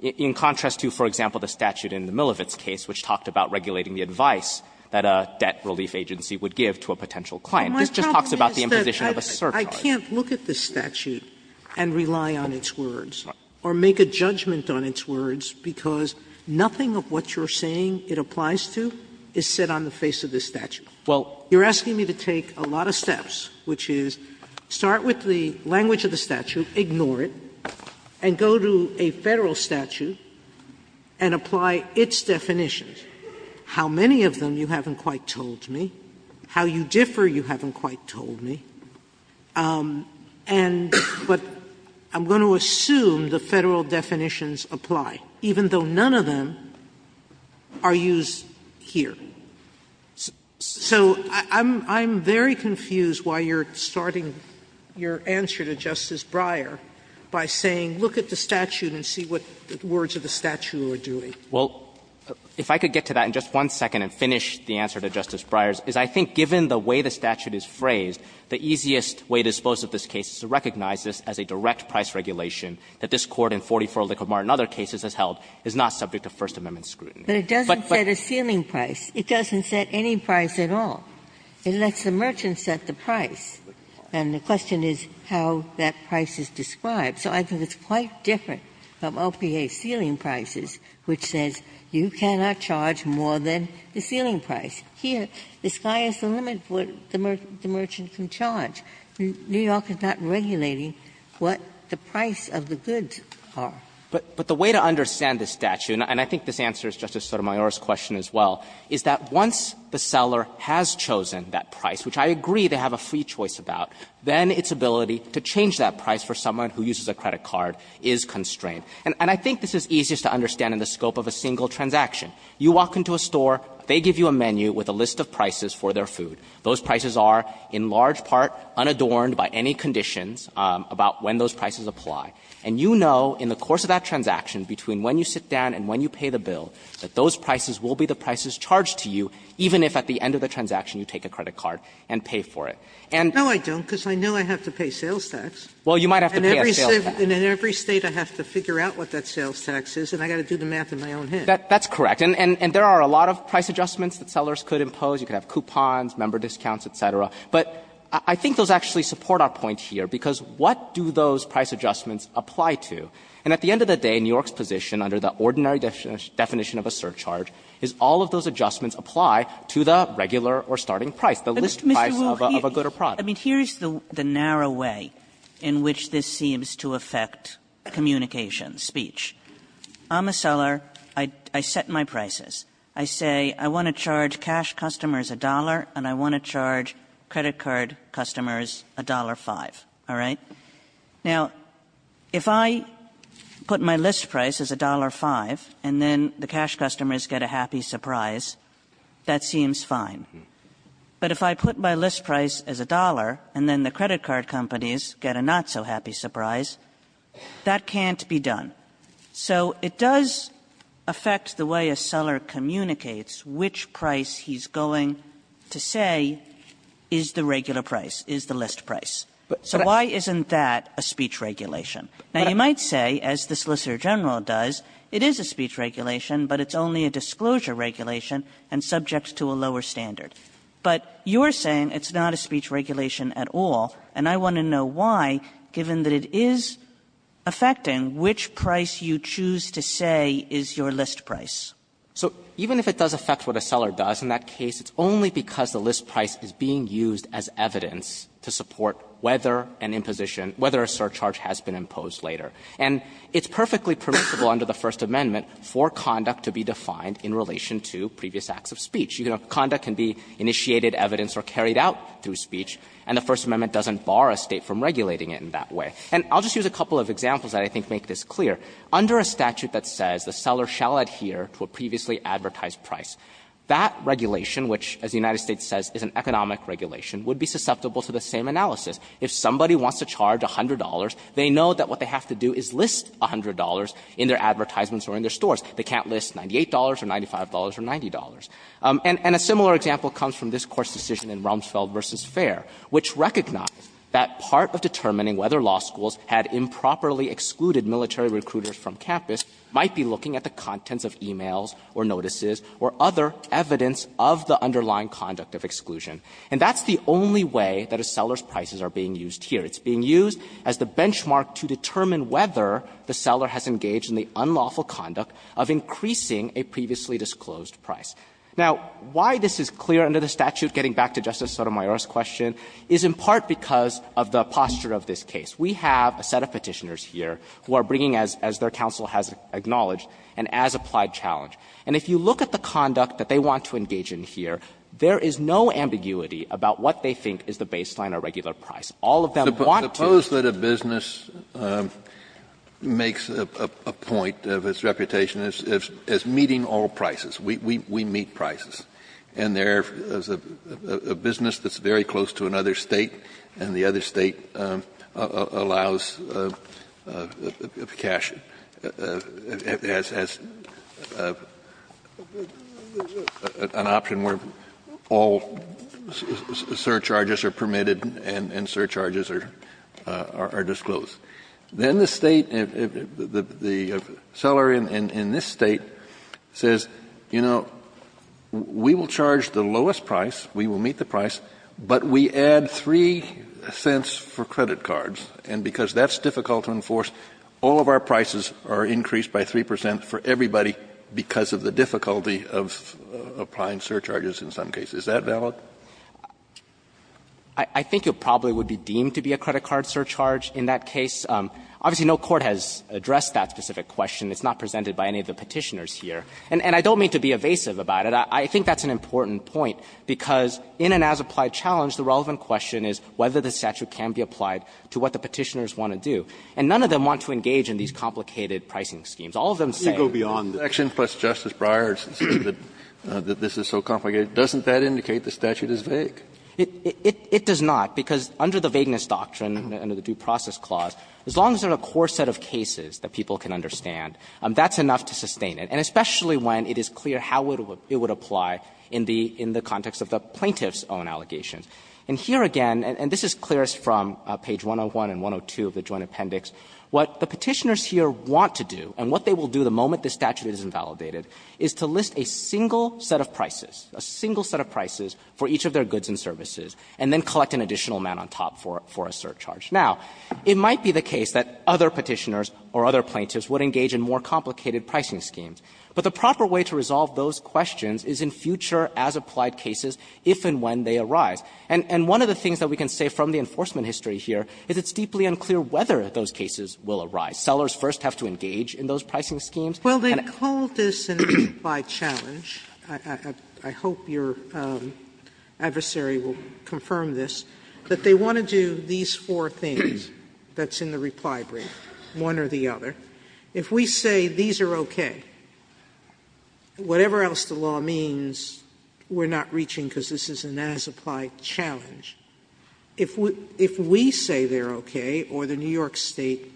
In contrast to, for example, the statute in the Milovitz case, which talked about regulating the advice that a debt relief agency would give to a potential client. This just talks about the imposition of a surcharge. Sotomayor, I can't look at this statute and rely on its words or make a judgment on its words because nothing of what you're saying it applies to is said on the face of this statute. You're asking me to take a lot of steps, which is start with the language of the statute, ignore it, and go to a Federal statute and apply its definitions. How many of them you haven't quite told me. How you differ you haven't quite told me. And but I'm going to assume the Federal definitions apply, even though none of them are used here. So I'm very confused why you're starting your answer to Justice Breyer by saying look at the statute and see what the words of the statute are doing. Well, if I could get to that in just one second and finish the answer to Justice Breyer's, is I think given the way the statute is phrased, the easiest way to dispose of this case is to recognize this as a direct price regulation that this Court in 44 Liquid Mart and other cases has held is not subject to First Amendment scrutiny. But it doesn't set a ceiling price. It doesn't set any price at all. It lets the merchant set the price. And the question is how that price is described. So I think it's quite different from OPA's ceiling prices, which says you cannot charge more than the ceiling price. Here, the sky is the limit for what the merchant can charge. New York is not regulating what the price of the goods are. But the way to understand this statute, and I think this answers Justice Sotomayor's question as well, is that once the seller has chosen that price, which I agree they have a free choice about, then its ability to change that price for someone who uses a credit card is constrained. And I think this is easiest to understand in the scope of a single transaction. You walk into a store. They give you a menu with a list of prices for their food. Those prices are in large part unadorned by any conditions about when those prices apply. And you know in the course of that transaction between when you sit down and when you pay the bill, that those prices will be the prices charged to you, even if at the end of the transaction you take a credit card and pay for it. And you know I don't, because I know I have to pay sales tax. Well, you might have to pay a sales tax. And in every State I have to figure out what that sales tax is, and I've got to do the math in my own head. That's correct. And there are a lot of price adjustments that sellers could impose. You could have coupons, member discounts, et cetera. But I think those actually support our point here, because what do those price adjustments apply to? And at the end of the day, New York's position under the ordinary definition of a surcharge is all of those adjustments apply to the regular or starting price, the list price of a good or product. Kagan is narrow way in which this seems to affect communication, speech. I'm a seller. I set my prices. I say, I want to charge cash customers a dollar and I want to charge credit card customers a dollar five, all right? Now, if I put my list price as a dollar five and then the cash customers get a happy surprise, that seems fine. But if I put my list price as a dollar and then the credit card companies get a not-so-happy surprise, that can't be done. So it does affect the way a seller communicates which price he's going to say is the regular price, is the list price. So why isn't that a speech regulation? Now, you might say, as the Solicitor General does, it is a speech regulation, but it's only a disclosure regulation and subject to a lower standard. But you're saying it's not a speech regulation at all, and I want to know why, given that it is affecting which price you choose to say is your list price. So even if it does affect what a seller does, in that case, it's only because the list price is being used as evidence to support whether an imposition – whether a surcharge has been imposed later. And it's perfectly permissible under the First Amendment for conduct to be defined in relation to previous acts of speech. Conduct can be initiated, evidenced, or carried out through speech, and the First Amendment doesn't bar a State from regulating it in that way. And I'll just use a couple of examples that I think make this clear. Under a statute that says the seller shall adhere to a previously advertised price, that regulation, which, as the United States says, is an economic regulation, would be susceptible to the same analysis. If somebody wants to charge $100, they know that what they have to do is list $100 in their advertisements or in their stores. They can't list $98 or $95 or $90. And a similar example comes from this Court's decision in Rumsfeld v. Fair, which recognized that part of determining whether law schools had improperly excluded military recruiters from campus might be looking at the contents of e-mails or notices or other evidence of the underlying conduct of exclusion. And that's the only way that a seller's prices are being used here. It's being used as the benchmark to determine whether the seller has engaged in the unlawful conduct of increasing a previously disclosed price. Now, why this is clear under the statute, getting back to Justice Sotomayor's question, is in part because of the posture of this case. We have a set of Petitioners here who are bringing, as their counsel has acknowledged, an as-applied challenge. And if you look at the conduct that they want to engage in here, there is no ambiguity about what they think is the baseline or regular price. All of them want to be able to do that. Kennedy, Suppose that a business makes a point of its reputation as meeting all prices. We meet prices. And there is a business that's very close to another State, and the other State allows cash as an option where all surcharges are permitted and surcharges are disclosed. Then the State, the seller in this State, says, you know, we will charge the lowest price, we will meet the price, but we add 3 cents for credit cards. And because that's difficult to enforce, all of our prices are increased by 3 percent for everybody because of the difficulty of applying surcharges in some cases. Is that valid? I think it probably would be deemed to be a credit card surcharge in that case. Obviously, no court has addressed that specific question. It's not presented by any of the Petitioners here. And I don't mean to be evasive about it. I think that's an important point, because in an as-applied challenge, the relevant question is whether the statute can be applied to what the Petitioners want to do. And none of them want to engage in these complicated pricing schemes. All of them say the section plus Justice Breyer says that this is so complicated. Doesn't that indicate the statute is vague? It does not, because under the vagueness doctrine, under the Due Process Clause, as long as there are a core set of cases that people can understand, that's enough to sustain it, and especially when it is clear how it would apply in the context of the plaintiff's own allegations. And here again, and this is clearest from page 101 and 102 of the Joint Appendix, what the Petitioners here want to do, and what they will do the moment the statute is invalidated, is to list a single set of prices, a single set of prices for each of their goods and services, and then collect an additional amount on top for a surcharge. Now, it might be the case that other Petitioners or other plaintiffs would engage in more complicated pricing schemes, but the proper way to resolve those questions is in future as-applied cases if and when they arise. And one of the things that we can say from the enforcement history here is it's deeply unclear whether those cases will arise. Sellers first have to engage in those pricing schemes. Sotomayor, Well, they call this an as-applied challenge. I hope your adversary will confirm this, that they want to do these four things that's in the reply brief, one or the other. If we say these are okay, whatever else the law means, we're not reaching because this is an as-applied challenge. If we say they're okay or the New York State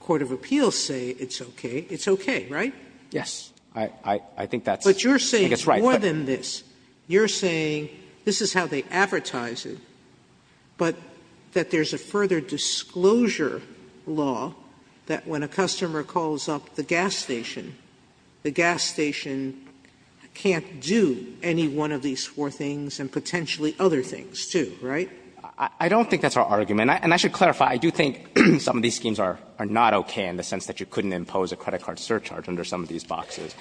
Court of Appeals say it's okay, it's okay, right? Yes. I think that's right. But you're saying more than this. You're saying this is how they advertise it, but that there's a further disclosure law that when a customer calls up the gas station, the gas station can't do any one of these four things and potentially other things, too, right? I don't think that's our argument. And I should clarify, I do think some of these schemes are not okay in the sense that you couldn't impose a credit card surcharge under some of these boxes.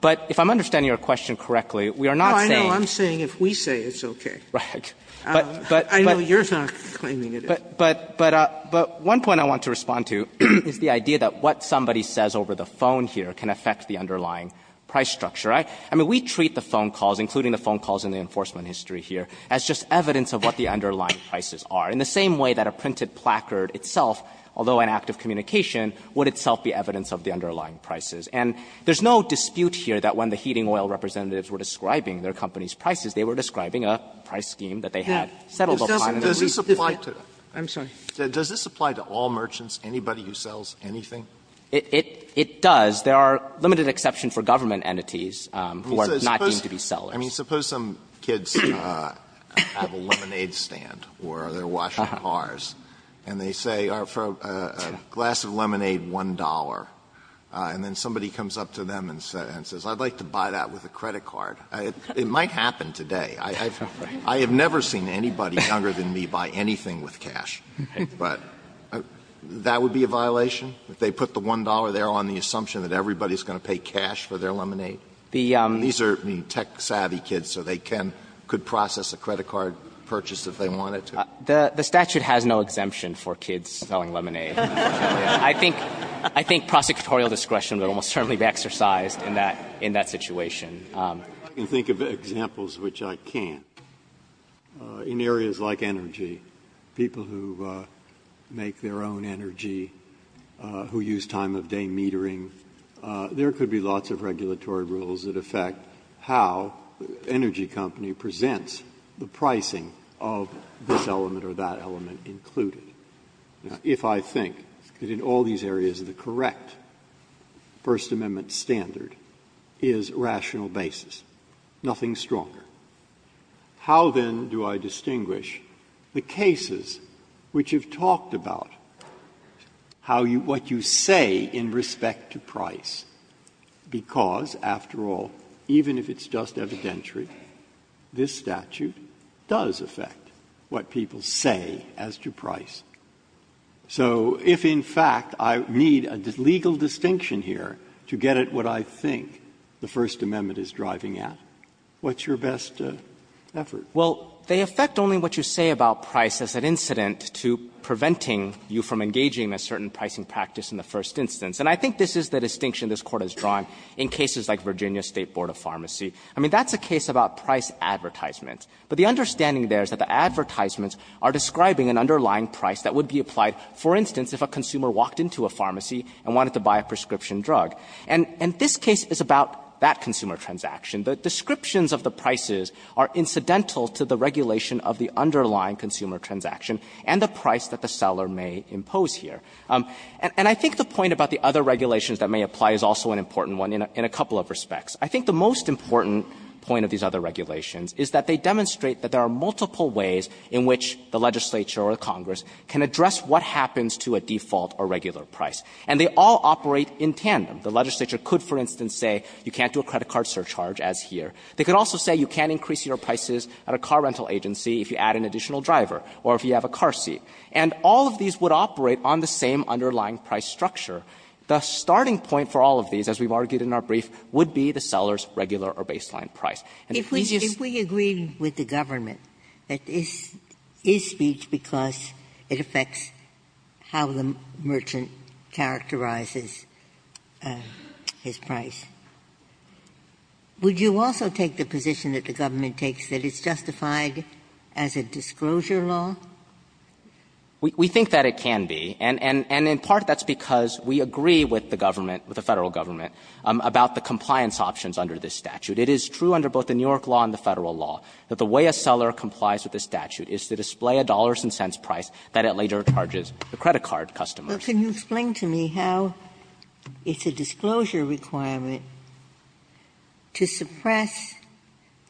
But if I'm understanding your question correctly, we are not saying no. I'm saying if we say it's okay. Right. But I know you're not claiming it is. But one point I want to respond to is the idea that what somebody says over the phone here can affect the underlying price structure. I mean, we treat the phone calls, including the phone calls in the enforcement history here, as just evidence of what the underlying prices are, in the same way that a printed placard itself, although an act of communication, would itself be evidence of the underlying prices. And there's no dispute here that when the heating oil representatives were describing their company's prices, they were describing a price scheme that they had settled upon in a reasonable way. I'm sorry. Does this apply to all merchants, anybody who sells anything? It does. There are limited exceptions for government entities who are not deemed to be sellers. Alito, I mean, suppose some kids have a lemonade stand or they're washing cars, and they say, for a glass of lemonade, $1.00, and then somebody comes up to them and says, I'd like to buy that with a credit card. It might happen today. I have never seen anybody younger than me buy anything with cash. But that would be a violation? If they put the $1.00 there on the assumption that everybody is going to pay cash for their lemonade? These are tech-savvy kids, so they can go process a credit card purchase if they wanted to. The statute has no exemption for kids selling lemonade. I think prosecutorial discretion would almost certainly be exercised in that situation. I can think of examples which I can't. In areas like energy, people who make their own energy, who use time-of-day metering, there could be lots of regulatory rules that affect how energy company presents the pricing of this element or that element included. If I think that in all these areas the correct First Amendment standard is rational basis, nothing stronger. How, then, do I distinguish the cases which have talked about how you what you say in respect to price, because, after all, even if it's just evidentiary, this statute does affect what people say as to price. So if, in fact, I need a legal distinction here to get at what I think the First standards are, then I think that's the best effort. Well, they affect only what you say about price as an incident to preventing you from engaging in a certain pricing practice in the first instance. And I think this is the distinction this Court has drawn in cases like Virginia State Board of Pharmacy. I mean, that's a case about price advertisements. But the understanding there is that the advertisements are describing an underlying price that would be applied, for instance, if a consumer walked into a pharmacy and wanted to buy a prescription drug. And this case is about that consumer transaction. The descriptions of the prices are incidental to the regulation of the underlying consumer transaction and the price that the seller may impose here. And I think the point about the other regulations that may apply is also an important one in a couple of respects. I think the most important point of these other regulations is that they demonstrate that there are multiple ways in which the legislature or the Congress can address what happens to a default or regular price. And they all operate in tandem. The legislature could, for instance, say you can't do a credit card surcharge as here. They could also say you can't increase your prices at a car rental agency if you add an additional driver or if you have a car seat. And all of these would operate on the same underlying price structure. The starting point for all of these, as we've argued in our brief, would be the seller's regular or baseline price. And if we just say we agree with the government that this is speech because it affects how the merchant characterizes his price, would you also take the position that the government takes that it's justified as a disclosure law? We think that it can be. And in part that's because we agree with the government, with the Federal government, about the compliance options under this statute. It is true under both the New York law and the Federal law that the way a seller complies with this statute is to display a dollars and cents price that it later charges the credit card customers. Ginsburg. Well, can you explain to me how it's a disclosure requirement to suppress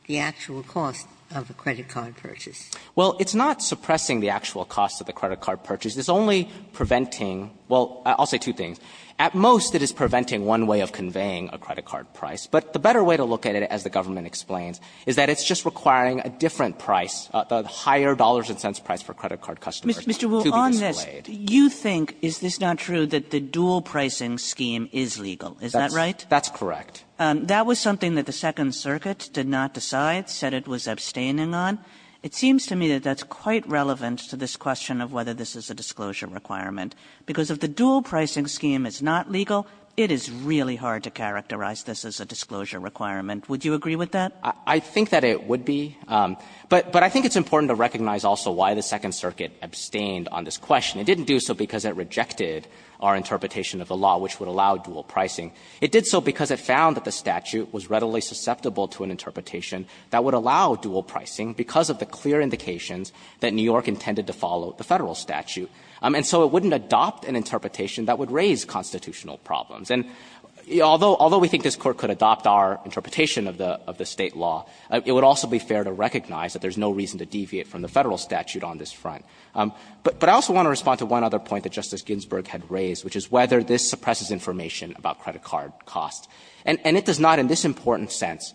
the actual cost of a credit card purchase? Well, it's not suppressing the actual cost of the credit card purchase. It's only preventing — well, I'll say two things. At most, it is preventing one way of conveying a credit card price. But the better way to look at it, as the government explains, is that it's just requiring a different price, a higher dollars and cents price for credit card customers to be displayed. Mr. Wu, on this, you think, is this not true, that the dual pricing scheme is legal? Is that right? That's correct. That was something that the Second Circuit did not decide, said it was abstaining on. It seems to me that that's quite relevant to this question of whether this is a disclosure requirement, because if the dual pricing scheme is not legal, it is really hard to characterize this as a disclosure requirement. Would you agree with that? I think that it would be. But I think it's important to recognize also why the Second Circuit abstained on this question. It didn't do so because it rejected our interpretation of the law, which would allow dual pricing. It did so because it found that the statute was readily susceptible to an interpretation that would allow dual pricing because of the clear indications that New York intended to follow the Federal statute. And so it wouldn't adopt an interpretation that would raise constitutional problems. And although we think this Court could adopt our interpretation of the State law, it would also be fair to recognize that there's no reason to deviate from the Federal statute on this front. But I also want to respond to one other point that Justice Ginsburg had raised, which is whether this suppresses information about credit card costs. And it does not in this important sense.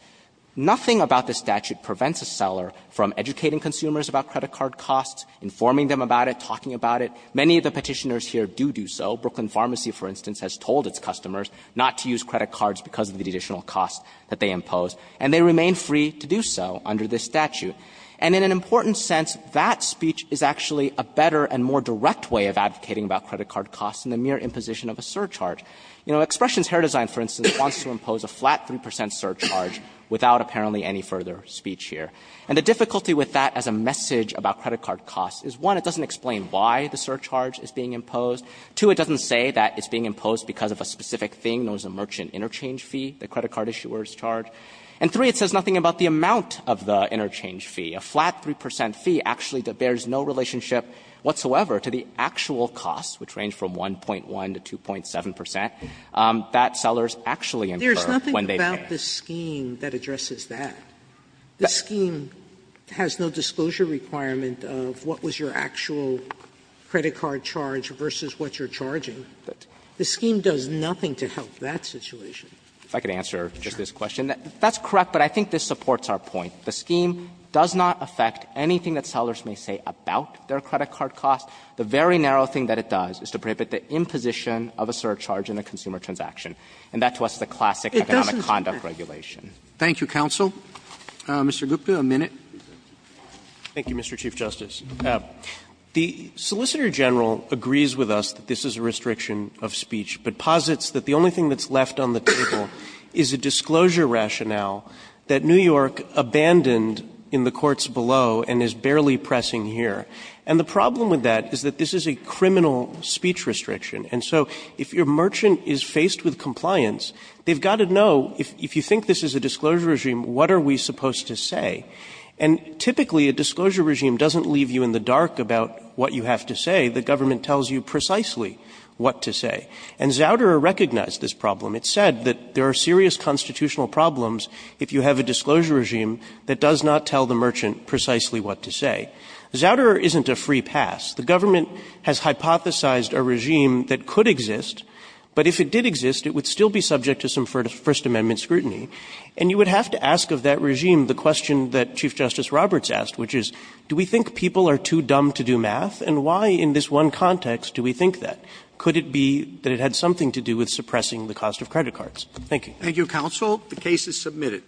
Nothing about this statute prevents a seller from educating consumers about credit card costs, informing them about it, talking about it. Many of the Petitioners here do do so. Brooklyn Pharmacy, for instance, has told its customers not to use credit cards because of the additional costs that they impose. And they remain free to do so under this statute. And in an important sense, that speech is actually a better and more direct way of advocating about credit card costs in the mere imposition of a surcharge. You know, Expressions Hair Design, for instance, wants to impose a flat 3 percent surcharge without apparently any further speech here. And the difficulty with that as a message about credit card costs is, one, it doesn't explain why the surcharge is being imposed. Two, it doesn't say that it's being imposed because of a specific thing, known as a merchant interchange fee, the credit card issuer's charge. And three, it says nothing about the amount of the interchange fee. A flat 3 percent fee actually bears no relationship whatsoever to the actual costs, which range from 1.1 to 2.7 percent, that sellers actually incur when they pay. Sotomayor, there's nothing about this scheme that addresses that. This scheme has no disclosure requirement of what was your actual credit card charge versus what you're charging. The scheme does nothing to help that situation. Yang. If I could answer just this question. That's correct, but I think this supports our point. The scheme does not affect anything that sellers may say about their credit card costs. The very narrow thing that it does is to prohibit the imposition of a surcharge in a consumer transaction. And that to us is a classic economic conduct regulation. Robertson, Thank you, counsel. Mr. Gupta, a minute. Gupta, Thank you, Mr. Chief Justice. The Solicitor General agrees with us that this is a restriction of speech, but posits that the only thing that's left on the table is a disclosure rationale that New York abandoned in the courts below and is barely pressing here. And the problem with that is that this is a criminal speech restriction. And so if your merchant is faced with compliance, they've got to know, if you think this is a disclosure regime, what are we supposed to say? And typically, a disclosure regime doesn't leave you in the dark about what you have to say. The government tells you precisely what to say. And Zauderer recognized this problem. It said that there are serious constitutional problems if you have a disclosure regime that does not tell the merchant precisely what to say. Zauderer isn't a free pass. The government has hypothesized a regime that could exist, but if it did exist, it would still be subject to some First Amendment scrutiny. And you would have to ask of that regime the question that Chief Justice Roberts asked, which is, do we think people are too dumb to do math, and why in this one context do we think that? Could it be that it had something to do with suppressing the cost of credit cards? Thank you. Roberts. Thank you, counsel. The case is submitted.